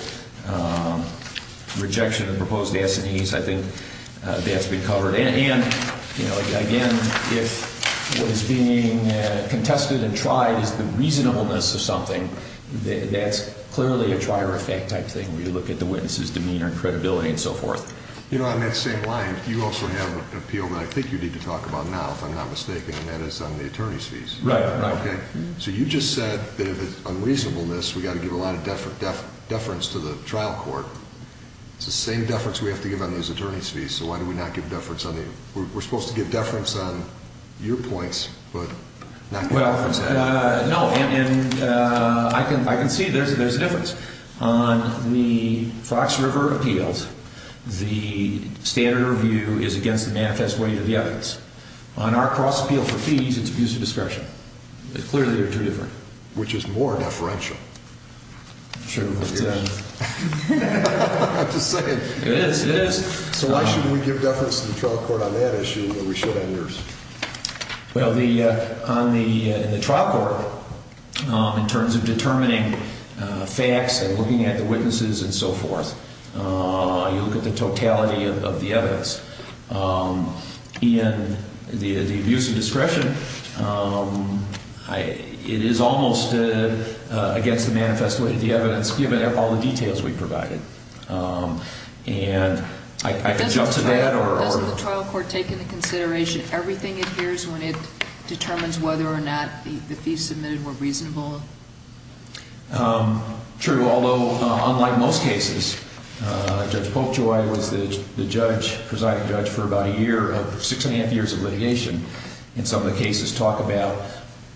rejection of the proposed S&Es, I think they have to be covered. And, you know, again, if it was being contested and tried, the reasonableness of something, that's clearly a prior effect type thing, where you look at the witness' demeanor and credibility and so forth. You know, on that same line, you also have an appeal that I think we need to talk about now, if I'm not mistaken, and that is on the attorney's fees. Right. Okay. So you just said that if it's unreasonableness, we've got to give a lot of deference to the trial court. It's the same deference we have to give on those attorney's fees, so why do we not give deference on the, we're supposed to give deference on your points, but not your points. Well, no, and I can see there's a difference. On the cross-referred appeals, the standard review is against the manifest way of the evidence. On our cross-appeal for fees, it's abuse of discretion. Clearly, they're two different. Which is more deferential. I'm sure it is. It is, it is. So why shouldn't we give deference to the trial court on that issue when we should have yours? Well, on the trial court, in terms of determining facts and looking at the witnesses and so forth, you look at the totality of the evidence. In the abuse of discretion, it is almost against the manifest way of the evidence, given all the details we provided. And I could jump to that or... Everything appears when it determines whether or not the fees submitted were reasonable. True, although unlike most cases, Judge Polkjoy was the judge, presiding judge, for about a year, six and a half years of litigation. And some of the cases talk about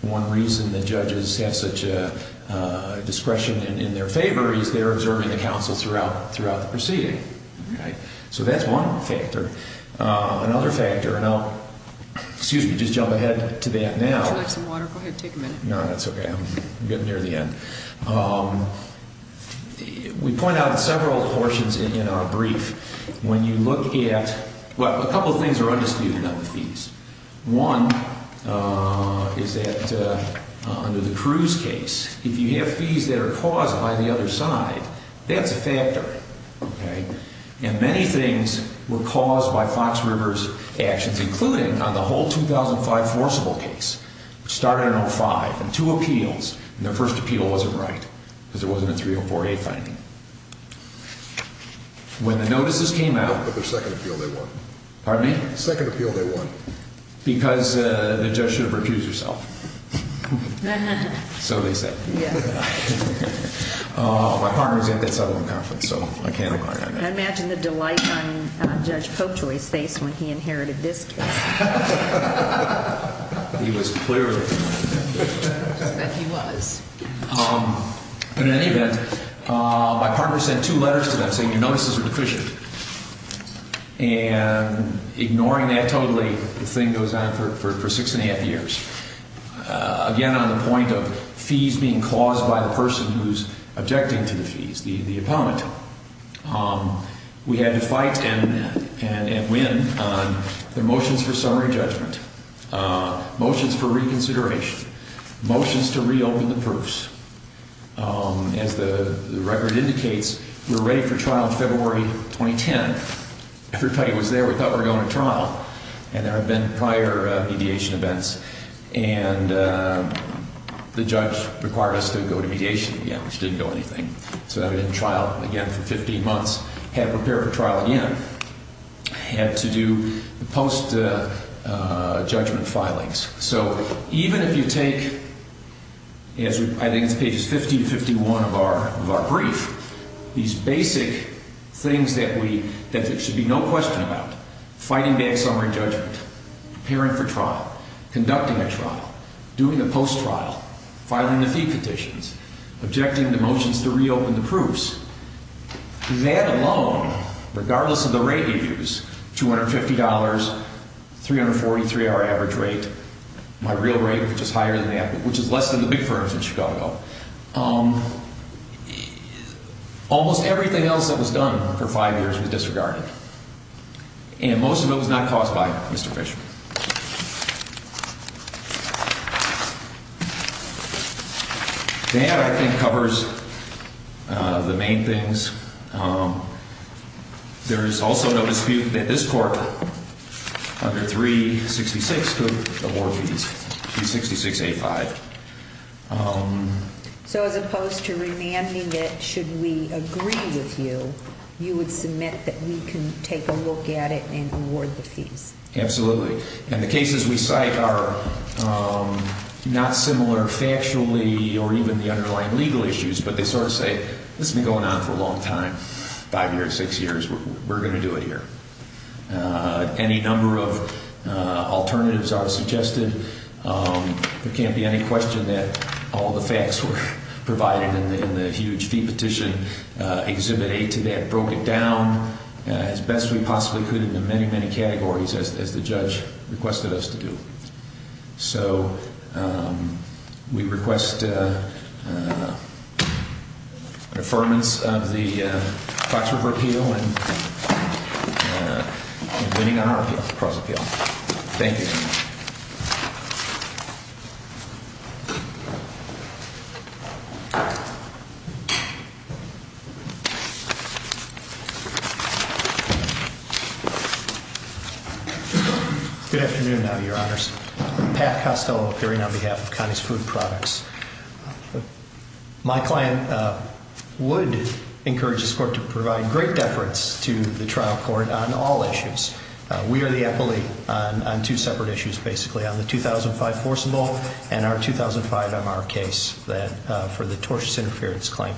one reason the judges have such a discretion in their favor is they're observing the counsel throughout the proceeding. So that's one factor. Another factor, and I'll, excuse me, just jump ahead to that now. Do you want some water? Go ahead, take a minute. No, that's okay. I'm getting near the end. We point out several portions in our brief. When you look at, well, a couple of things are understated on the fees. One is that under the Cruz case, if you have fees that are caused by the other side, that's a factor. And many things were caused by Fox River's actions, including on the whole 2005 forcible case, starting on five, and two appeals, and their first appeal wasn't right because there wasn't a 304A finding. When the notices came out... But the second appeal they won. Pardon me? The second appeal they won. Because the judge should have refused herself. So it is that. My partner is a good fellow now, so... I imagine the delight on Judge Cotoy's face when he inherited this case. He was clearly... He was. But in any event, my partner sent two letters to the judge saying your notices are deficient. And ignoring that totally, the thing goes on for six and a half years. Again, on the point of fees being caused by a person who is objecting to the fees, the abominable. We had to fight and win on the motions for summary judgment, motions for reconsideration, motions to reopen the purse. As the record indicates, we were ready for trial February 2010. Judge Cotoy was there. We thought we were going to trial. And there had been prior mediation events. And the judge required us to go to mediation again, which didn't go anything. So that we didn't trial again for 15 months. Had to prepare for trial again. Had to do the post-judgment filings. So even if you take, as I did in page 50 and 51 of our brief, these basic things that there should be no question about. Fighting back summary judgment. Preparing for trial. Conducting a trial. Doing the post-trial. Filing the fee petitions. Objecting the motions to reopen the purse. And that alone, regardless of the rate we used, $250, 343 our average rate. My real rate, which is higher than that, which is less than the big firms in Chicago. Almost everything else that was done for five years was disregarded. And most of it was not caused by Mr. Fisher. That, I think, covers the main things. There is also no dispute that this court under 366 took the more fees. 366A5. So as opposed to revamping it, should we agree with you, you would submit that we can take a look at it and award the fee? Absolutely. And the cases we cite are not similar factually or even the underlying legal issues. But they sort of say, this has been going on for a long time, five years, six years. We're going to do it here. Any number of alternatives are suggested. There can't be any question that all the facts were provided in the huge depetition. Exhibit A to that broke it down as best we possibly could into many, many categories, as the judge requested us to do. So we request an affirmance of the factual repeal. Thank you. Thank you. Good afternoon, Your Honors. Pat Costello, appearing on behalf of Conestoga Products. My plan would encourage this court to provide great deference to the trial court on all issues. We are the appellee on two separate issues, basically, on the 2005 forcible and our 2005 MR case for the tortious interference claim.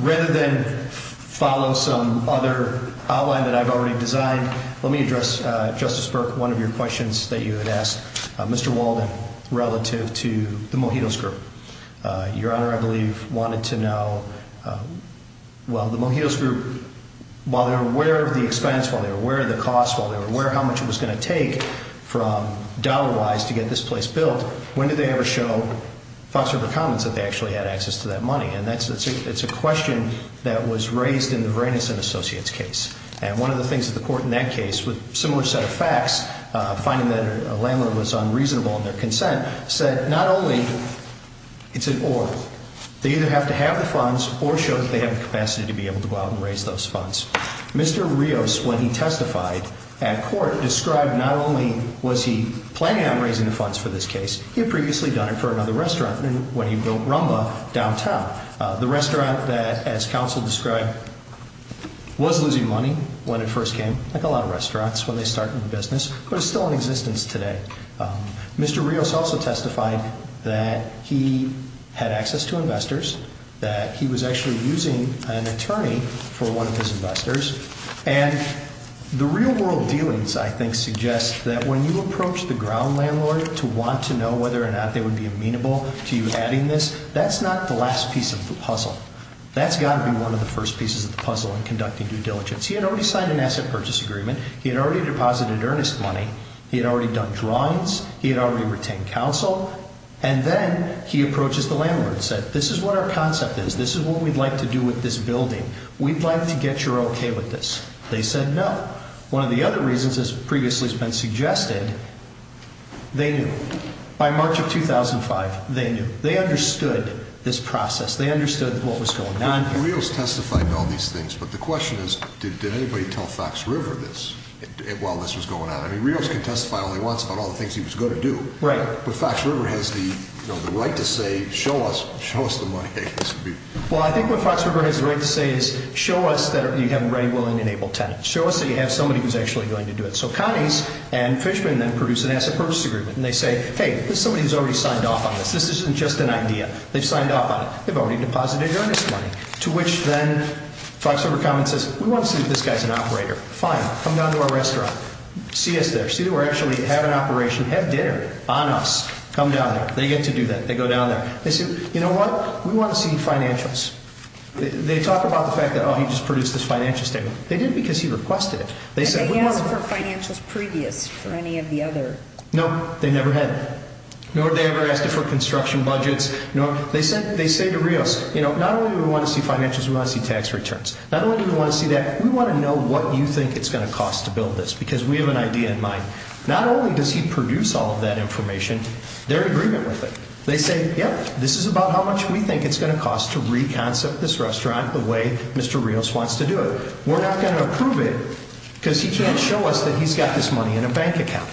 Rather than follow some other outline that I've already designed, let me address, Justice Burke, one of your questions that you had asked Mr. Walden, relative to the Mojitos group. Your Honor, I believe, wanted to know, well, the Mojitos group, while they were aware of the expense, while they were aware of the cost, while they were aware of how much it was going to take from dollar-wise to get this place built, when did they ever show Fox River Commons that they actually had access to that money? And that's a question that was raised in the Reines and Associates case. And one of the things that the court in that case, with a similar set of facts, finding that a landlord was unreasonable in their consent, said, not only is it or, they either have to have the funds or show that they have the capacity to be able to go out and raise those funds. Mr. Rios, when he testified at court, described not only was he planning on raising the funds for this case, he had previously done it for another restaurant when he built Rumba downtown, the restaurant that, as counsel described, was losing money when it first came. Like a lot of restaurants when they started the business, but it's still in existence today. Mr. Rios also testified that he had access to investors, that he was actually using an attorney for one of his investors. And the real world dealings, I think, suggest that when you approach the ground landlord to want to know whether or not they would be amenable to you having this, that's not the last piece of the puzzle. That's got to be one of the first pieces of the puzzle in conducting due diligence. He had already signed an asset purchase agreement. He had already deposited earnest money. He had already done drawings. He had already retained counsel. And then he approaches the landlord and said, this is what our concept is. This is what we'd like to do with this building. We'd like to get your okay with this. They said no. One of the other reasons, as previously has been suggested, they knew. By March of 2005, they knew. They understood this process. They understood what was going on here. Mr. Rios testified about these things, but the question is, did anybody tell Fox River this while this was going on? I mean, Rios can testify only once about all the things he was going to do. Right. But Fox River has the right to say, show us the money makers. Well, I think what Fox River has the right to say is, show us that you have readily enabled tenants. Show us that you have somebody who's actually going to do it. So Cummings and Fishman then produce an asset purchase agreement, and they say, hey, somebody's already signed off on this. This isn't just an idea. They signed off on it. They've already deposited earnest money, to which then Fox River comments, who wants to see if this guy's an operator? Fine. Come down to our restaurant. See us there. See if we actually have an operation, have dinner on us. Come down there. They get to do that. They go down there. They say, you know what? We want to see financials. They talk about the fact that, oh, he just produced this financial statement. They did it because he requested it. They said, we want to see it. Did they ask for financials previous for any of the other? No. They never had it. Nor did they ever ask for construction budgets. They said to Rios, not only do we want to see financials, we want to see tax returns. Not only do we want to see that, we want to know what you think it's going to cost to build this, because we have an idea in mind. Not only does he produce all of that information, they're in agreement with it. They say, yep, this is about how much we think it's going to cost to re-concept this restaurant the way Mr. Rios wants to do it. We're not going to approve it because he's going to show us that he's got this money in a bank account.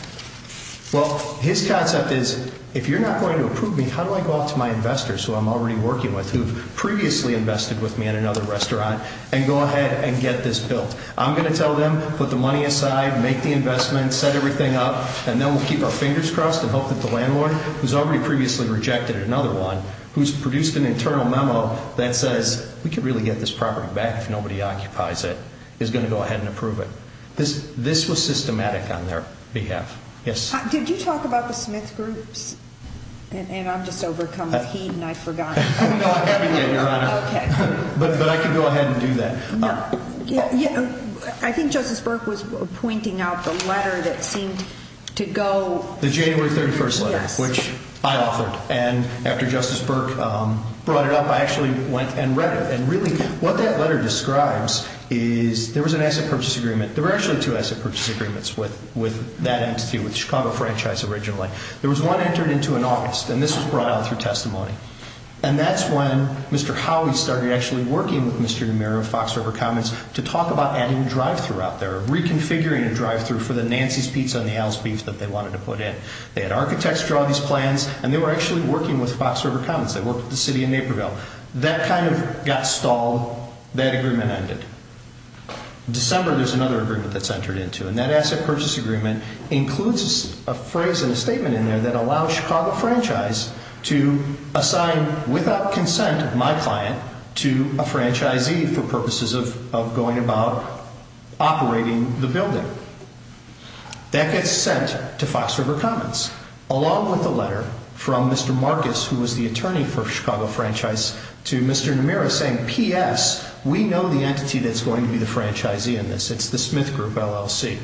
Well, his concept is, if you're not going to approve me, how do I go up to my investors who I'm already working with, who previously invested with me at another restaurant, and go ahead and get this built? I'm going to tell them, put the money aside, make the investment, set everything up, and then we'll keep our fingers crossed and hope that the landlord, who's already previously rejected at another one, who's produced an internal memo that says, we can really get this property back if nobody occupies it, is going to go ahead and approve it. This was systematic on their behalf. Did you talk about the Smith Group? And I'm just overcoming a heat, and I forgot. But I can go ahead and do that. I think Justice Burke was pointing out the letter that seemed to go. The January 31st letter, which I authored. And after Justice Burke brought it up, I actually went and read it. And really, what that letter describes is there was an asset purchase agreement. There were actually two asset purchase agreements with that entity, with Chicago Franchise originally. There was one entered into an office, and this was brought on through testimony. And that's when Mr. Howley started actually working with Mr. Romero and Fox River Commons to talk about adding a drive-thru out there, reconfiguring a drive-thru for the Nancy's Pizza and the Al's Beef that they wanted to put in. They had architects draw these plans, and they were actually working with Fox River Commons. They worked with the city of Naperville. That kind of got stalled. That agreement ended. In December, there's another agreement that's entered into, and that asset purchase agreement includes a phrase and a statement in there that allows Chicago Franchise to assign, without consent of my client, to a franchisee for purposes of going about operating the building. That gets sent to Fox River Commons, along with a letter from Mr. Marcus, who was the attorney for Chicago Franchise, to Mr. Romero saying, P.S., we know the entity that's going to be the franchisee in this. It's the Smith Group, LLC.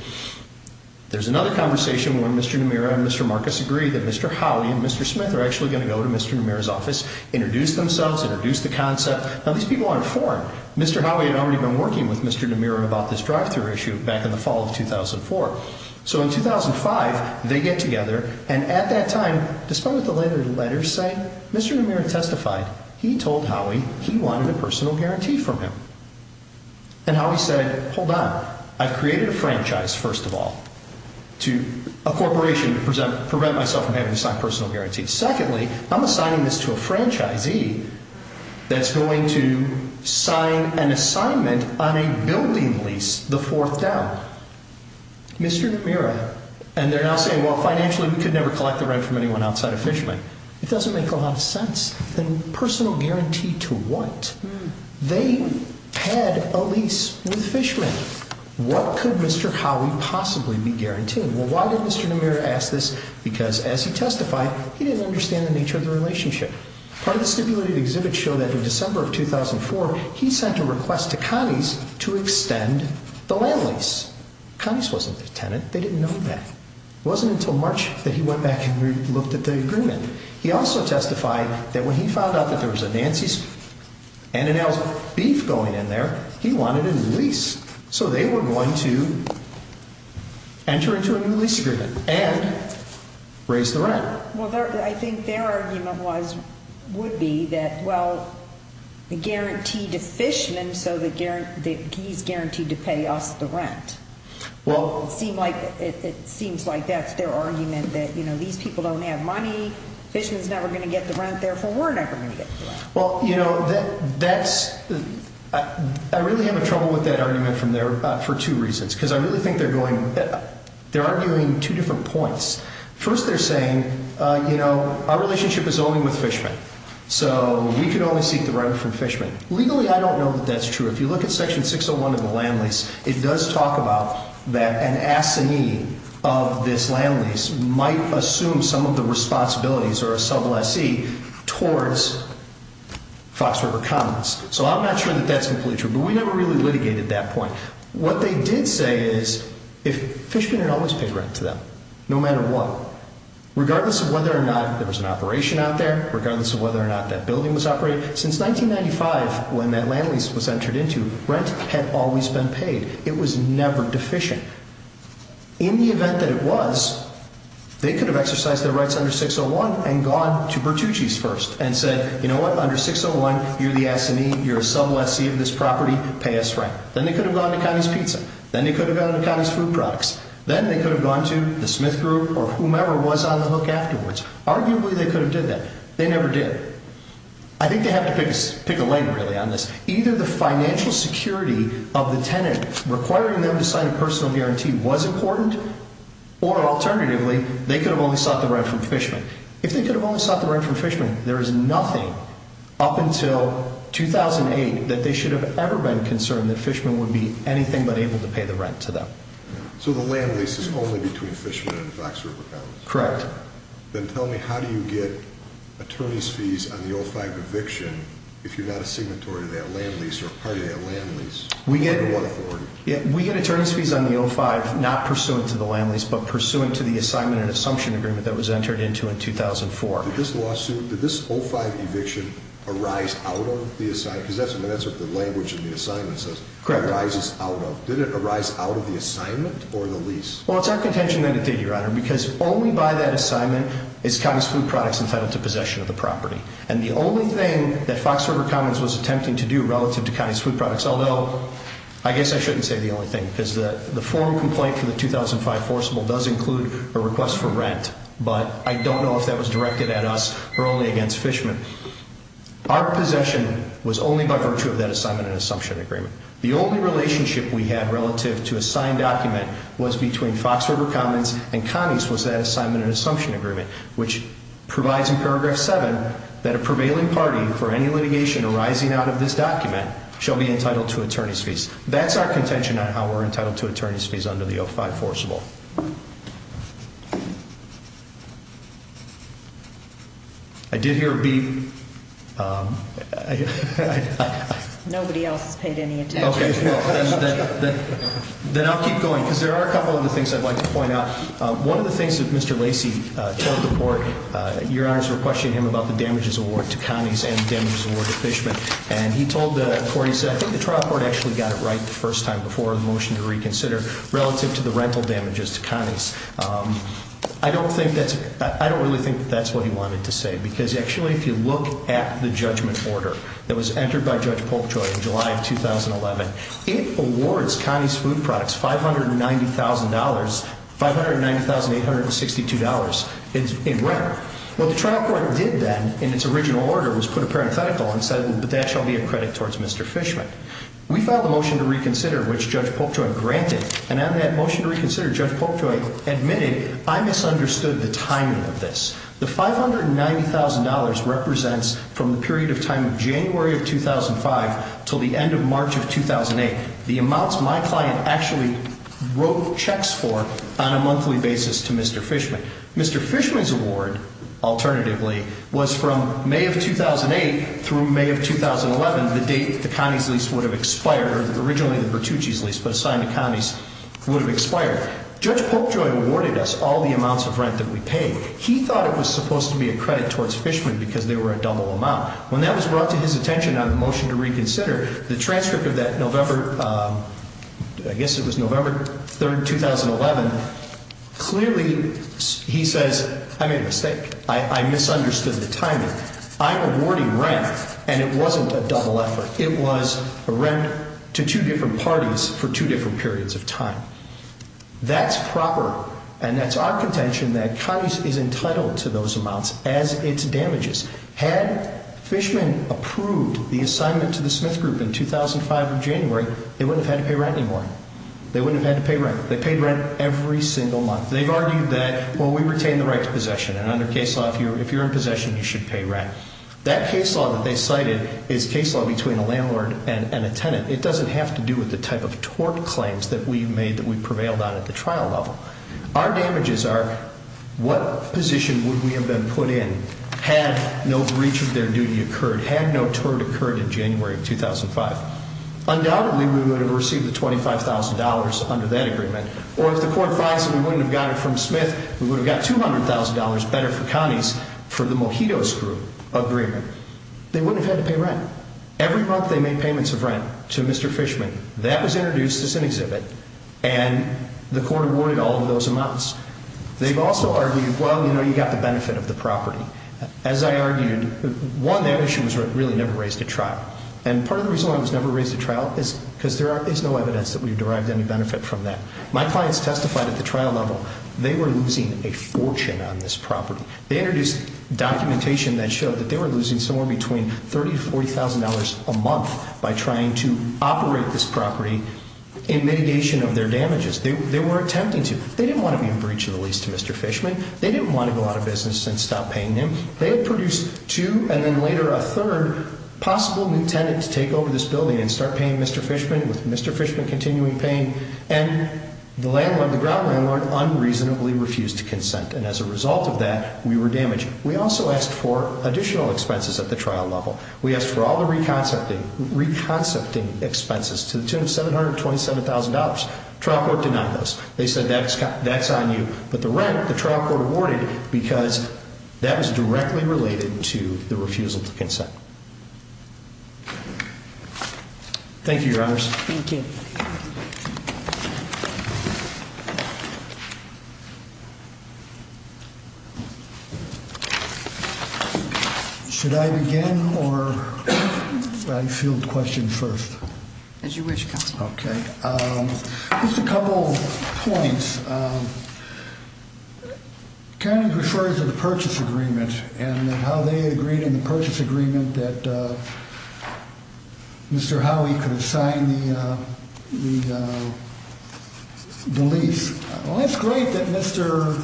There's another conversation where Mr. Romero and Mr. Marcus agree that Mr. Howley and Mr. Smith are actually going to go to Mr. Romero's office, introduce themselves, introduce the concept. Now, these people aren't foreign. Mr. Howley had already been working with Mr. Romero about this drive-thru issue back in the fall of 2004. So in 2005, they get together, and at that time, to start with the letters saying, Mr. Romero testified. He told Howley he wanted a personal guarantee from him. And Howley said, hold on. I've created a franchise, first of all, a corporation to provide myself a very strong personal guarantee. Secondly, I'm assigning this to a franchisee that's going to sign an assignment on a building lease, the fourth down. Mr. Romero. And they're now saying, well, financially, we could never collect the rent from anyone outside of Fishman. It doesn't make a lot of sense. A personal guarantee to what? They had a lease with Fishman. What could Mr. Howley possibly be guaranteeing? Well, why would Mr. Romero ask this? Because as he testified, he didn't understand the nature of the relationship. Part of the stipulated exhibits show that in December of 2004, he sent a request to Connie's to extend the land lease. Connie's wasn't a tenant. They didn't know that. It wasn't until March that he went back and looked at the agreement. He also testified that when he found out that there was a Nancy's and an Alice B going in there, he wanted a new lease. So they were going to enter into a new lease agreement. And raise the rent. Well, I think their argument would be that, well, the guarantee to Fishman so that he's guaranteed to pay off the rent. Well, it seems like that's their argument that, you know, these people don't have money, Fishman's never going to get the rent, therefore we're never going to get the rent. Well, you know, I really have a problem with that argument from there for two reasons. Because I really think they're arguing two different points. First, they're saying, you know, our relationship is only with Fishman. So we can only seek the rent from Fishman. Legally, I don't know that that's true. If you look at section 601 of the land lease, it does talk about that an assignee of this land lease might assume some of the responsibilities or a sub lessee towards Fox River Commons. So I'm not sure that that's completely true. But we never really litigated that point. What they did say is if Fishman had always paid rent to them, no matter what, regardless of whether or not there was an operation out there, regardless of whether or not that building was operated, since 1995 when that land lease was entered into, rent had always been paid. It was never deficient. In the event that it was, they could have exercised their rights under 601 and gone to Bertucci's first and said, you know what, under 601, you're the assignee, you're a sub lessee of this property, pay us rent. Then they could have gone to Connie's Pizza. Then they could have gone to Connie's Food Products. Then they could have gone to the Smith Group or whomever was on the hook afterwards. Arguably they could have did that. They never did. I think they have to pick a leg really on this. Either the financial security of the tenant requiring them to sign a personal guarantee was important, or alternatively, they could have always sought the rent from Fishman. If they could have always sought the rent from Fishman, there is nothing up until 2008 that they should have ever been concerned that Fishman would be anything but able to pay the rent to them. So the land lease is only between Fishman and the Fox River Towns? Correct. Then tell me, how do you get attorney's fees on the 05 eviction if you got a signatory to that land lease or a party to that land lease? We get attorney's fees on the 05 not pursuant to the land lease, but pursuant to the assignment and assumption agreement that was entered into in 2004. In this lawsuit, did this 05 eviction arise out of the assignment? Because that's what the language in the assignment says. Correct. Arises out of. Did it arise out of the assignment or the lease? Well, it's our contention that it did, Your Honor, because only by that assignment is County's Food Products entitled to possession of the property. And the only thing that Fox River Commons was attempting to do relative to County's Food Products, although I guess I shouldn't say the only thing, because the form complaint for the 2005 forcible does include a request for an assignment and assumption agreement. The only relationship we had relative to a signed document was between Fox River Commons and County's Food Products assignment and assumption agreement, which provides in paragraph seven, that a prevailing party for any litigation arising out of this document shall be entitled to attorney's fees. That's our contention on how we're entitled to attorney's fees under the 05 forcible. I did hear a beep. Nobody else paid any attention. Okay. Then I'll keep going, because there are a couple of other things I'd like to point out. One of the things that Mr. Lacey told the court, Your Honor, is we're questioning him about the damages award to County's and the damages award to Fishman. And he told the court, he said, the trial court actually got it right the first time before the motion to the trial court actually got it right the first time before the motion to reconsider relative to the rental damages. I don't think that's, I don't really think that's what he wanted to say, because actually if you look at the judgment order that was entered by Judge Polkjoy in July of 2011, it awards County's Food Products $590,000, $590,862 in rent. What the trial court did then in its original order was put a parenthetical and said that shall be a credit towards Mr. Fishman. We filed a motion to reconsider, which Judge Polkjoy granted. And on that motion to reconsider, Judge Polkjoy admitted, I misunderstood the timing of this. The $590,000 represents from the period of time of January of 2005 till the end of March of 2008. The amounts my client actually wrote checks for on a monthly basis to Mr. Fishman. Mr. Fishman's award, alternatively was from May of 2008 through May of 2011, the date the County's lease would have expired, originally the Bertucci's lease, but signed the County's would have expired. Judge Polkjoy awarded us all the amounts of rent that we paid. He thought it was supposed to be a credit towards Fishman because they were a double amount. When that was brought to his attention on the motion to reconsider the transcript of that November, I guess it was November 3rd, 2011. Clearly he says, I made a mistake. I misunderstood the timing. I'm awarding rent and it wasn't a double effort. It was a rent to two different parties for two different periods of time. That's proper. And that's our contention that counties is entitled to those amounts as it's damages. Had Fishman approved the assignment to the Smith group in 2005 of January, they would have had to pay rent this morning. They wouldn't have had to pay rent. They paid rent every single month. They've argued that, well, we retain the right to possession. And I'm a case law here. If you're in possession, you should pay rent. That case law that they cited is case law between a landlord and a tenant. It doesn't have to do with the type of tort claims that we've made, that we've prevailed on at the trial level. Our damages are, what position would we have been put in had no breach of their duty occurred, had no tort occurred in January of 2005? Undoubtedly we would have received the $25,000 under that agreement. Or if the court finds that we wouldn't have gotten it from Smith, we would have got $200,000 better for counties for the Mojitos group. They wouldn't have had to pay rent. Every month they made payments of rent to Mr. Fishman. That was introduced as an exhibit. And the court awarded all of those amounts. They've also argued, well, we know you got the benefit of the property. As I argued, one, that issue was really never raised at trial. And part of the reason why it was never raised at trial is because there is no evidence that we derived any benefit from that. My clients testified at the trial level. They were losing a fortune on this property. They introduced documentation that showed that they were losing somewhere between $30,000 to $40,000 a month by trying to operate this property in mitigation of their damages. They were attempting to. They didn't want to be in breach of the lease to Mr. Fishman. They didn't want to go out of business and stop paying him. They had produced two, and then later a third, possible new tenant to take over this building and start paying Mr. Fishman, with Mr. Fishman continuing paying. And the latter one, the ground runner, unreasonably refused to consent. And as a result of that, we were damaged. We also asked for additional expenses at the trial level. We asked for all the reconcepting expenses to $727,000. Trial court denied us. They said, that's on you. But the rent, the trial court awarded, because that is directly related to the refusal to consent. Thank you, Your Honors. Thank you. Should I begin, or should I field questions first? As you wish, Mr. Proctor. Just a couple of points. Karen refers to the purchase agreement and how they agreed in the purchase agreement that Mr. Howey could assign the lease. Well, it's great that Mr.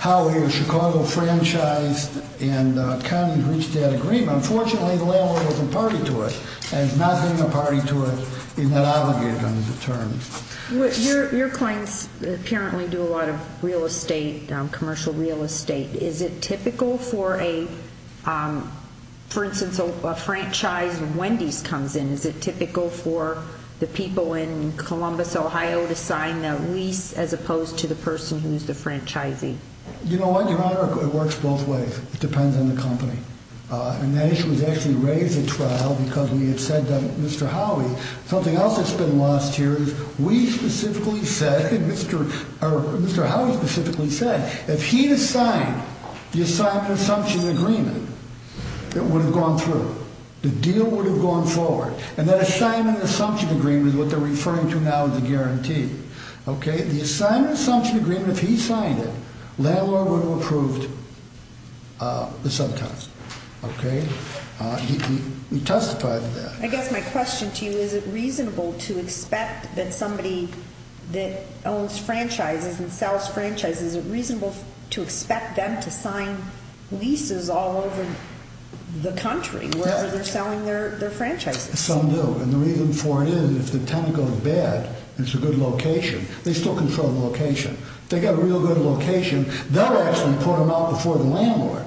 Howey of Chicago Franchise and County of Greenstead agreed. Unfortunately, the landlord was imparting to us, and is not giving a party to us in that obligation under the terms. Your clients apparently do a lot of real estate, commercial real estate. Is it typical for a, for instance, a franchise, when these come in, is it typical for the people in Columbus, Ohio, to sign the lease as opposed to the person who's the franchisee? You know what, Your Honor, it works both ways. It depends on the company. And this was actually raised at trial because we had said that Mr. Howey, something else that's been lost here, is we specifically said, Mr. Howey specifically said, if he had signed the assigned consumption agreement, it would have gone through. The deal would have gone forward. And that assigned consumption agreement is what they're referring to now as a guarantee. Okay? The assigned consumption agreement, if he signed it, landlord would have approved it sometimes. Okay? We testified to that. I guess my question to you is, is it reasonable to expect that somebody that owns franchises and sells franchises, is it reasonable to expect them to sign leases all over the country where they're selling their franchises? Some do. And the reason for it is if the tenant goes bad, there's a good location, they still confirm the location. They got a real good location. They'll actually put them out before the landlord.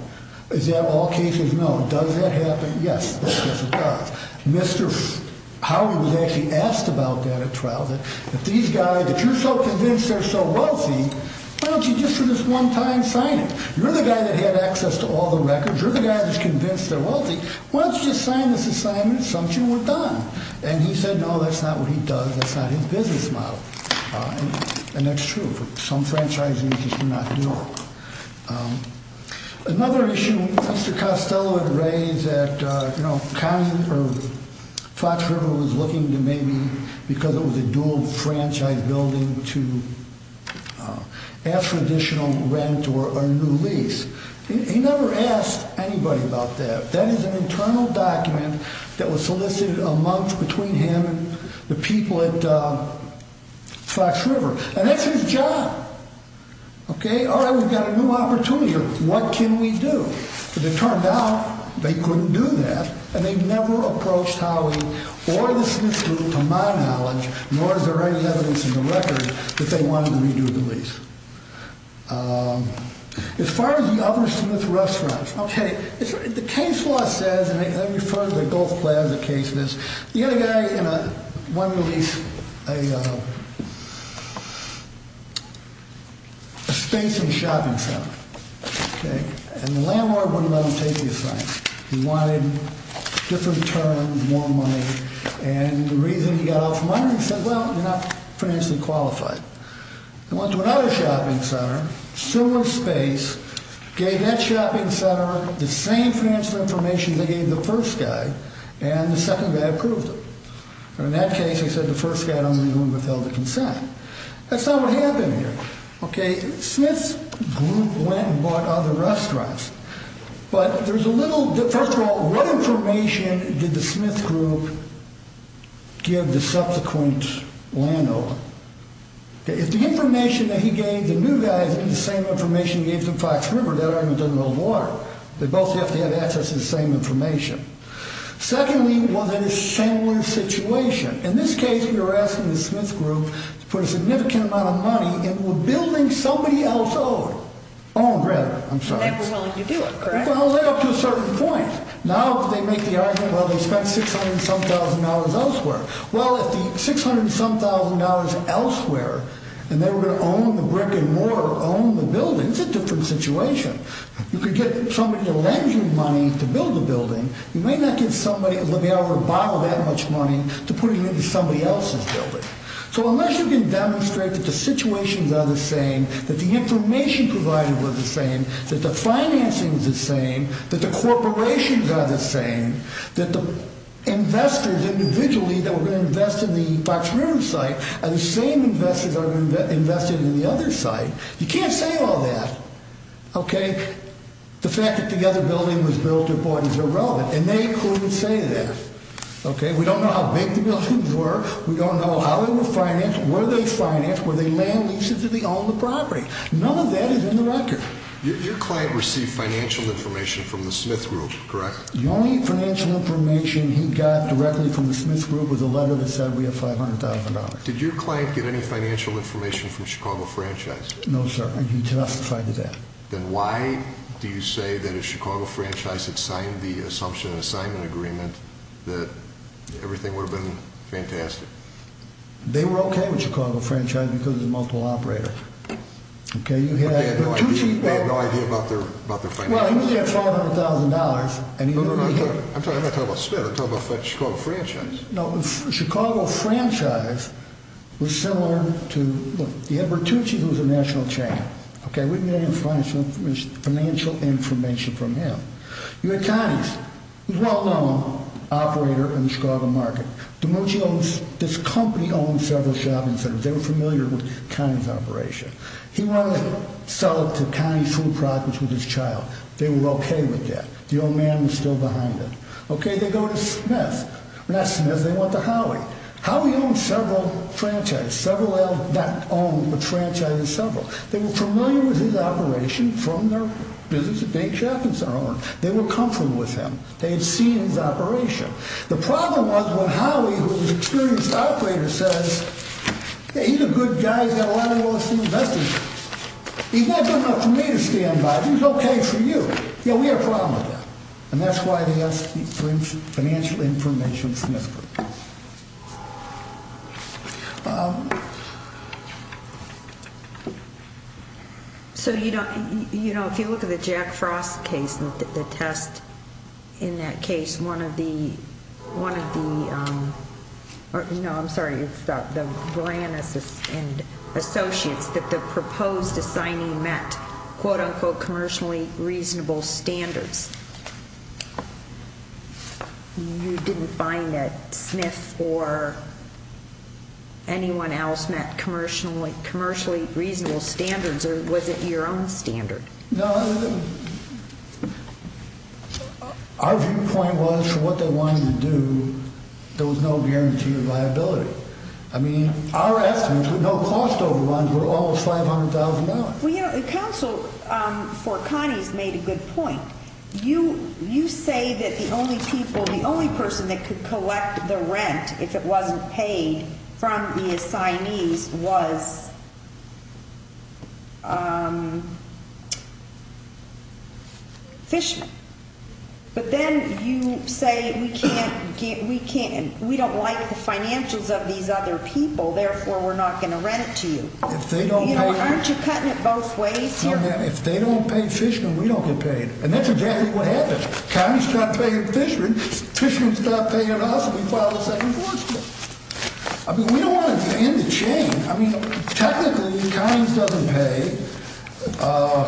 Is that all cases? No. Does that happen? Yes. Mr. Howey was actually asked about that at trial, that these guys, if you're so convinced they're so wealthy, why don't you just for this one time sign it? You're the guy that had access to all the records. You're the guy that's convinced they're wealthy. Why don't you just sign this assignment? And he said, no, that's not what he does. That's not his business model. And that's true. Some franchises just do not do it. Another issue Mr. Costello had raised that Fox River was looking to maybe, because it was a dual franchise building, to ask for additional rent or a new lease. He never asked anybody about that. That is an internal document that was solicited a month between him and the people at Fox River. And that's his job. Okay, all right, we've got a new opportunity. What can we do? As it turned out, they couldn't do that. And they never approached Howey or the Smithsonian to mine that money, nor is there any evidence in the records that they wanted to redo the lease. As far as the other Smith restaurants, okay, the case law says, and I refer to the Gulf Labs case, the other guy wanted to lease a space and shopping center. And the landlord wouldn't let him take his land. He wanted different terms, more money. And the reason he got off money, he said, well, you're not financially qualified. He went to another shopping center, similar space, gave that shopping center the same transfer information he gave the first guy, and the second guy approved it. And in that case, he said the first guy don't even do it without his consent. That's not what happened here. Okay, Smith's group went and bought other restaurants. But there's a little bit, first of all, what information did the Smith group give the subsequent landlord? If the information that he gave the new guy is the same information he gave to Fox River, that argument doesn't hold water. They both have to have access to the same information. Secondly, was it a similar situation? In this case, they were asking the Smith group for a significant amount of money, and were building somebody else over. Oh, Brad, I'm sorry. You can hold that up to a certain point. Now they make the argument, well, they spent $600 and some thousand dollars elsewhere. Well, if you spent $600 and some thousand dollars elsewhere, and they were going to own the brick and mortar, own the building, it's a different situation. You could get somebody to lend you money to build the building. You may not get somebody to be able to borrow that much money to put it into somebody else's building. So unless you can demonstrate that the situations are the same, that the information provided was the same, that the financing is the same, that the corporations are the same, that the investors individually that were going to invest in the Fox River site are the same investors that are going to invest in the other site, you can't say all that. The fact that the other building was built according to the road, it may include the say-it-is. We don't know how big the issues were. We don't know how it was financed, where they financed, where they made leases if they owned the property. None of that is interactive. Your client received financial information from the Smith Group, correct? The only financial information he got directly from the Smith Group was a letter that said we had $500,000. Did your client get any financial information from Chicago Franchise? No, sir. We did not provide that. Then why do you say that if Chicago Franchise had signed the Assumption Assignment Agreement that everything would have been fantastic? They were okay with Chicago Franchise because of the multiple operators. You had Bertucci. They had no idea about the franchise. He said $500,000. I'm not talking about Smith, I'm talking about Chicago Franchise. No, Chicago Franchise was similar to Bertucci, who was the national chairman. We didn't get any financial information from him. You had Connie. He was a well-known operator in the Chicago market. Bertucci owned this company, owned several salons there. They were familiar with Connie's operation. He wanted to sell it to Connie's food products with his child. They were okay with that. The old man was still behind it. Okay, they go to Smith. When they asked Smith, they went to Howie. Howie owned several franchises. Several of them not owned, but franchised in several. They were familiar with his operation from their business at Big Chap and some of them. They were comfortable with him. They had seen his operation. The problem was when Howie, who was an experienced operator, says, hey, he's a good guy, he's got a lot of real estate investors. He won't do enough for me to stand by him. He's okay for you. Yeah, we have problems with him. And that's why they asked for financial information from him. So, you know, if you look at the Jack Frost case and look at the test, in that case one of the ‑‑ no, I'm sorry. It's the Brand and Associates that the proposed assigning met quote, unquote, commercially reasonable standards. You didn't find that Smith or anyone else met commercially reasonable standards, or was it your own standards? No, our viewpoint was what they wanted to do, there was no guarantee of liability. I mean, our estimates were no cost overruns. We're almost $500,000. Well, you know, the counsel for Connie made a good point. You say that the only people, the only person that could collect the rent if it wasn't paid from the assignees was fishing. But then you say we can't ‑‑ we don't like the financials of these other people, therefore we're not going to rent to you. You know, aren't you cutting it both ways here? If they don't pay fishermen, we don't go pay. And that's exactly what happened. Connie started paying fishermen, fishermen started paying us, and we filed a second lawsuit. I mean, we don't want to get in the chain. I mean, technically, Connie's doesn't pay,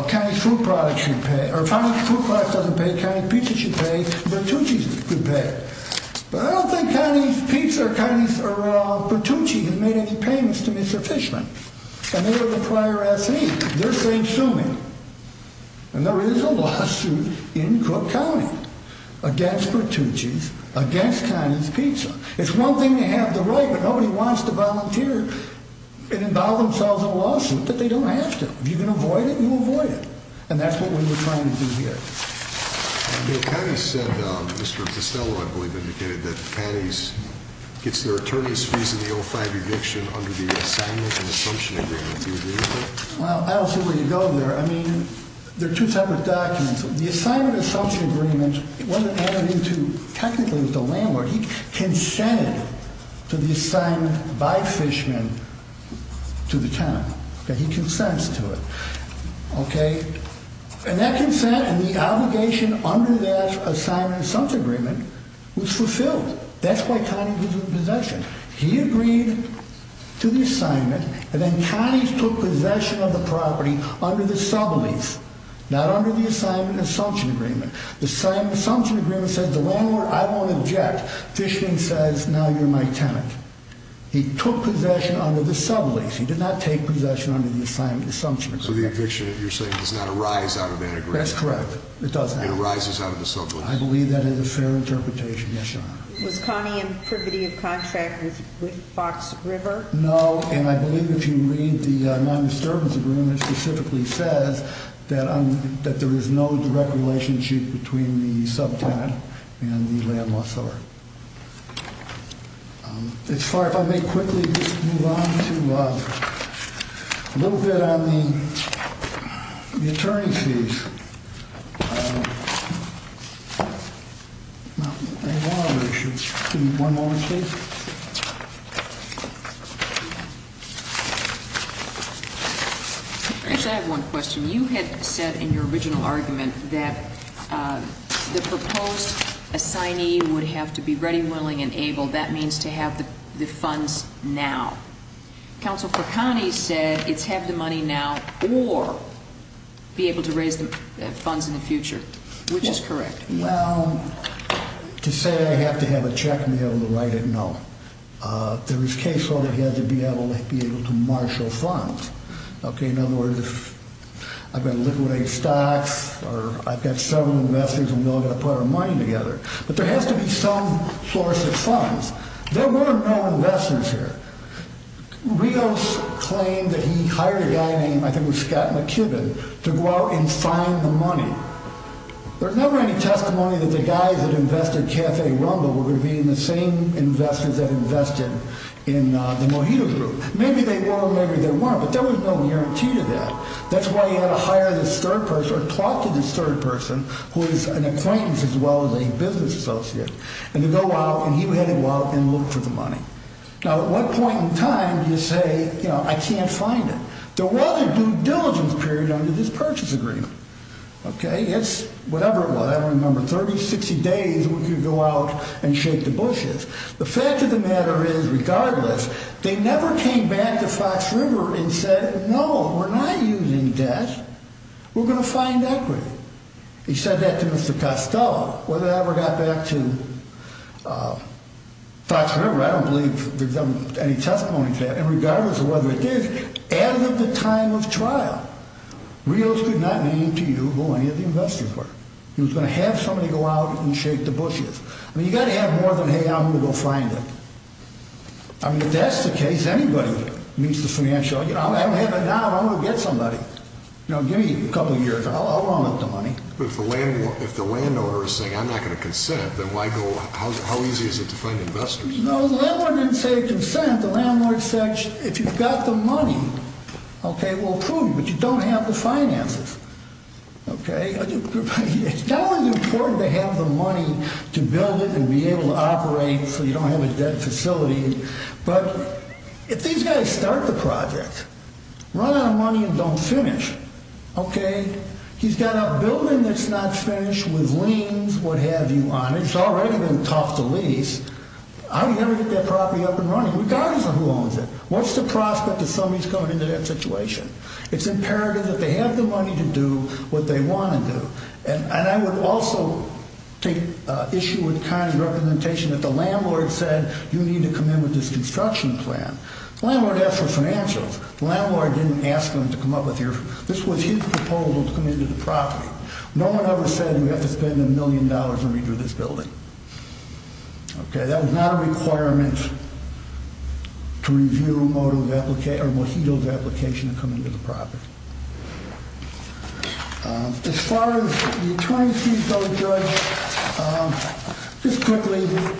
Connie's food products shouldn't pay, Connie's pizza should pay, Bertucci's should pay. But I don't think Connie's pizza or Bertucci's have made any payments to Mr. Fishman. And they're the prior assignees. They're saying sue me. And there is a lawsuit in Cook County against Bertucci's, against Connie's pizza. It's one thing to have the right, but nobody wants to volunteer and involve themselves in a lawsuit that they don't have to. If you can avoid it, you avoid it. And that's what we're trying to do here. They have said, Mr. Costello, I believe, that Connie's gets their attorney's fees in the ultimate eviction under the Assignment of Social Agreement, do they? Well, that's the way to go there. I mean, there are two types of documents. The Assignment of Social Agreement doesn't have anything to, technically, to land where he can stand to be signed by fishmen to the county, that he consents to it. Okay? And that consent and the obligation under that Assignment of Social Agreement was fulfilled. That's why Connie gives him possession. He agreed to the assignment, and then Connie took possession of the property under the sublinks, not under the Assignment of Social Agreement. The Assignment of Social Agreement says the wrong word. I won't object. Fishman says, now you're my tenant. He took possession under the sublinks. He did not take possession under the Assignment of Social Agreement. So the eviction, you're saying, does not arise out of that agreement. That's correct. It doesn't. It arises out of the sublinks. I believe that is a fair interpretation. Yes, Your Honor. Was Connie contributing a contract with Fox River? No, and I believe that you read the Non-Disturbance Agreement that specifically says that there is no direct relationship between the subtenant and the landless owner. As far as I may quickly move on to a little bit of an attorney's view. I just have one question. You had said in your original argument that the proposed assignee would have to be ready, willing, and able. That means to have the funds now. Counsel for Connie said it's have the money now or be able to raise the funds in the future, which is correct. Yes. Well, to say I have to have a check and be able to write it, no. There is case law that you have to be able to marshal funds. Okay, in order to, I've got to liquidate stocks, or I've got to sell them to investors in order to put our money together. But there has to be some source of funds. There were no investors here. Rios claimed that he hired a guy named, I think it was Scott McKibbin, to go out and find the money. There's never any testimony that the guy that invested, Jack A. Rumble, would have been the same investors that invested in the Mojito Group. Maybe they were, maybe they weren't, but there was no guarantee to that. That's why you had to hire the third person, or talk to the third person, who is an acquaintance as well as a business associate, and to go out, and he would have to walk and look for the money. Now, at what point in time do you say, you know, I can't find it? There was a due diligence period under this purchase agreement. Okay, that's whatever it was. I don't remember. 30, 60 days we could go out and shake the bushes. The fact of the matter is, regardless, they never came back to Fox River and said, No, we're not using debt. We're going to find equity. He said that to Mr. Pastel. I don't know whether that ever got back to Fox River. I don't believe there's any testimony to that. And regardless of whether it did, at the time of trial, Rios did not know what to do, or who any of the investors were. He was going to have somebody go out and shake the bushes. I mean, you've got to have more than, hey, I'm going to go find it. I mean, if that's the case, anybody needs the financial aid. I don't have it now. I want to get somebody. You know, give me a couple years. I'll loan them some money. But if the landowner is saying, I'm not going to consent, then how easy is it to find investors? No, the landlord didn't say consent. The landlord said, if you've got the money, okay, we'll prove it. But you don't have the finances. Okay? Now it's important to have the money to build it and be able to operate so you don't have a debt facility. But if these guys start the project, run out of money and don't finish, okay, he's got a building that's not finished with liens, what have you on it. It's already been topped the lease. How are you going to get that property up and running regardless of who owns it? What's the prospect of somebody coming into that situation? It's imperative that they have the money to do what they want to do. And I would also take issue with Tom's recommendation that the landlord said, you need to come in with this construction plan. Landlord asked for some answers. Landlord didn't ask them to come up with your, this was his proposal to come into the property. No one ever said we have to spend a million dollars to redo this building. Okay, that is not a requirement to review Mojito's application to come into the property. As far as the 20C fellow judge, just quickly, it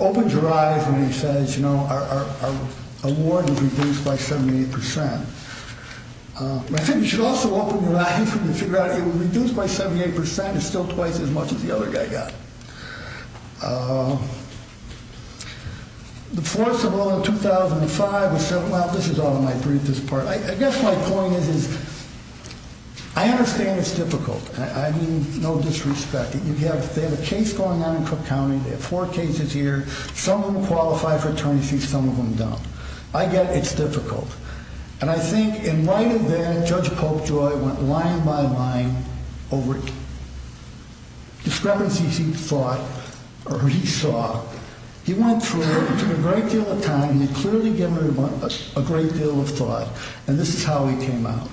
opens your eyes when he says, you know, our award will be reduced by 78%. You should also open your eyes when you figure out it was reduced by 78% and still twice as much as the other guy got. The fourth of all, 2005, this is all in my briefest part. I guess my point is, I understand it's difficult. I mean, no disrespect. You have a case going on in Cook County. They have four cases here. Some of them qualify for attorney fees, some of them don't. I get it's difficult. And I think, in light of that, Judge Popejoy went line by line over it, describing what he saw. He went through a great deal of time. He clearly gave a great deal of thought. And this is how he came out.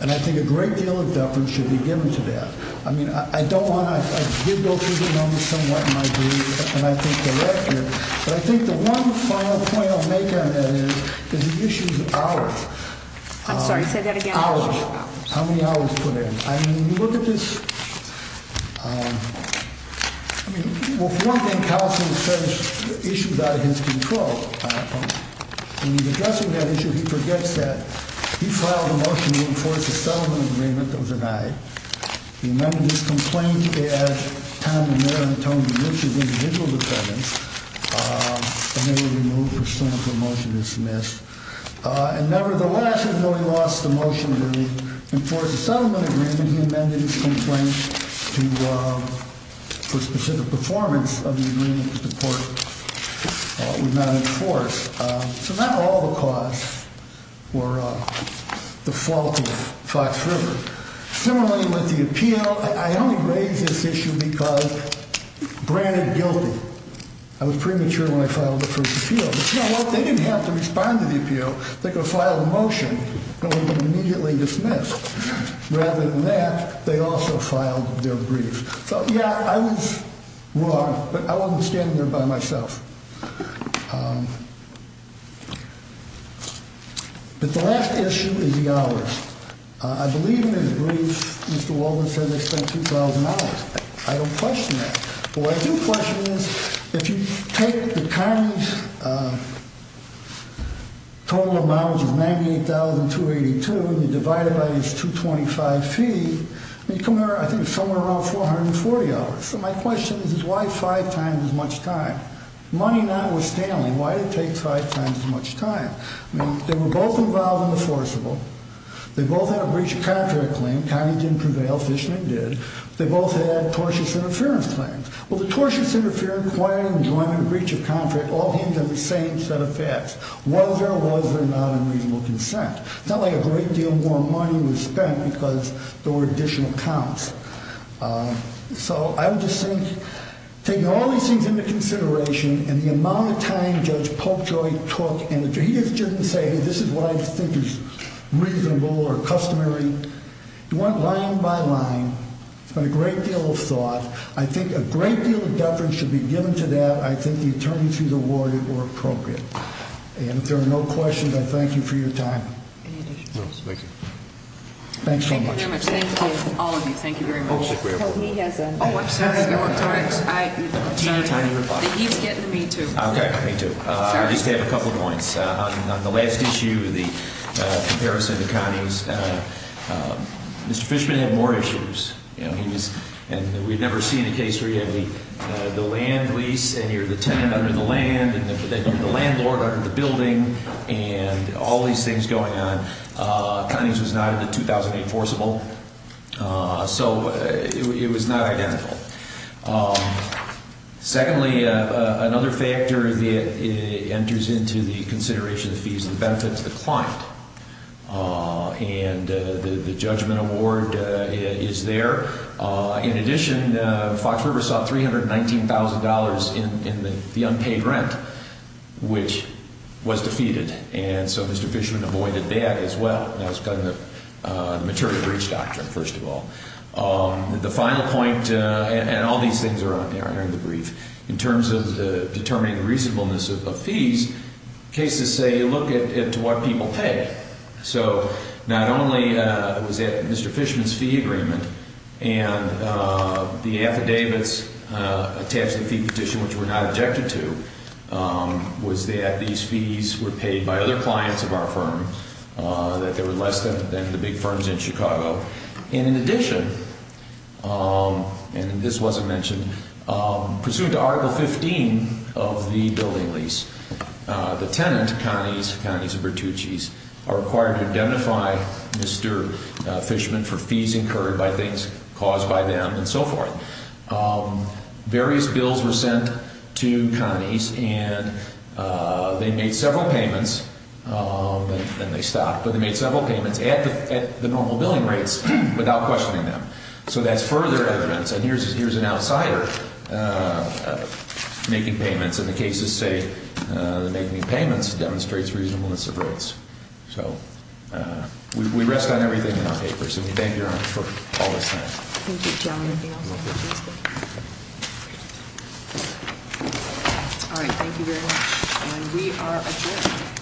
And I think a great deal of deference should be given to that. I mean, I don't want to, I did go through the numbers somewhat in my brief, and I think they're accurate. But I think the one final point I'll make on that is that the issue is hours. I'm sorry, say that again. Hours. How many hours for that? I mean, look at this. I mean, he will work and constantly fetch issues out of his control. And he's addressing that issue. He forgets that. He filed a motion in court to sell him at the minimum of the value. He amended his complaint to add $10 million to his individual repayment. He will be moved to stand for motion to dismiss. And nevertheless, he really lost the motion. And for a settlement agreement, he amended his complaint for specific performance of the agreement to the court. It was not enforced. So not all the cause were the fault of Fox River. Similarly, with the appeal, I only raised this issue because, granted, guilty. I was premature when I filed the first appeal. But, you know what, they didn't have to respond to the appeal. They could have filed a motion that was immediately dismissed. Rather than that, they also filed their brief. So, yeah, I was wrong, but I'll understand that by myself. But the last issue is the hours. I believe in the brief Mr. Wolfensohn had said $2,000. I don't question that. But what I do question is, if you take the county's total amount of $98,282 and you divide it by his $225 fee, you come out, I think, somewhere around $440. So my question is, why five times as much time? Money not withstanding, why did it take five times as much time? I mean, they were both involved in the forcible. They both had a breach of contract claim. County didn't prevail. Fishnet did. They both had tortious interference claims. Well, the tortious interference claim was one in breach of contract. Well, he's on the same set of facts. Was there, was there not a reasonable consent? It's not like a great deal more money was spent because there were additional counts. So I would just think, taking all these things into consideration and the amount of time Judge Polkjoy took, and if he has a chance to say, hey, this is what I think is reasonable or customary, one line by line, put a great deal of thought, I think a great deal of effort should be given to that, I think the attorneys he's awarded were appropriate. And if there are no questions, I thank you for your time. Thank you. Thanks so much. Thank you, all of you. Thank you very much. Oh, I'm sorry. Did you get to me too? I got to me too. Sorry. I just had a couple of points. On the last issue, the comparison of counties, Mr. Fishman had more issues. You know, he was, and we've never seen a case where he had the land lease and you're the tenant under the land and the landlord under the building and all these things going on. Counties was not in the 2008 forcible. So it was not identical. Secondly, another factor that enters into the consideration of fees and benefits, the client. And the judgment award is there. In addition, Fox River saw $319,000 in the unpaid rent, which was defeated. And so Mr. Fishman avoided that as well. That was kind of the material breach doctrine, first of all. The final point, and all these things are on there in the brief, in terms of determining the reasonableness of the fees, cases say you look at what people pay. So not only was it Mr. Fishman's fee agreement and the affidavits attached to the fee petition, which we're not objected to, was that these fees were paid by other clients of our firm, that they were less than the big firms in Chicago. And in addition, and this wasn't mentioned, pursuant to Article 15 of the building lease, the tenant, counties, counties of Bertucci's, are required to indemnify Mr. Fishman for fees incurred by things caused by them and so forth. Various bills were sent to counties and they made several payments. And they stopped, but they made several payments at the normal billing rates without questioning them. So that's further evidence. And here's an outsider making payments. And the cases say making payments demonstrates reasonableness of rights. So we rest on everything in our papers. And we thank your Honor for all this time. Thank you, John. Thank you very much.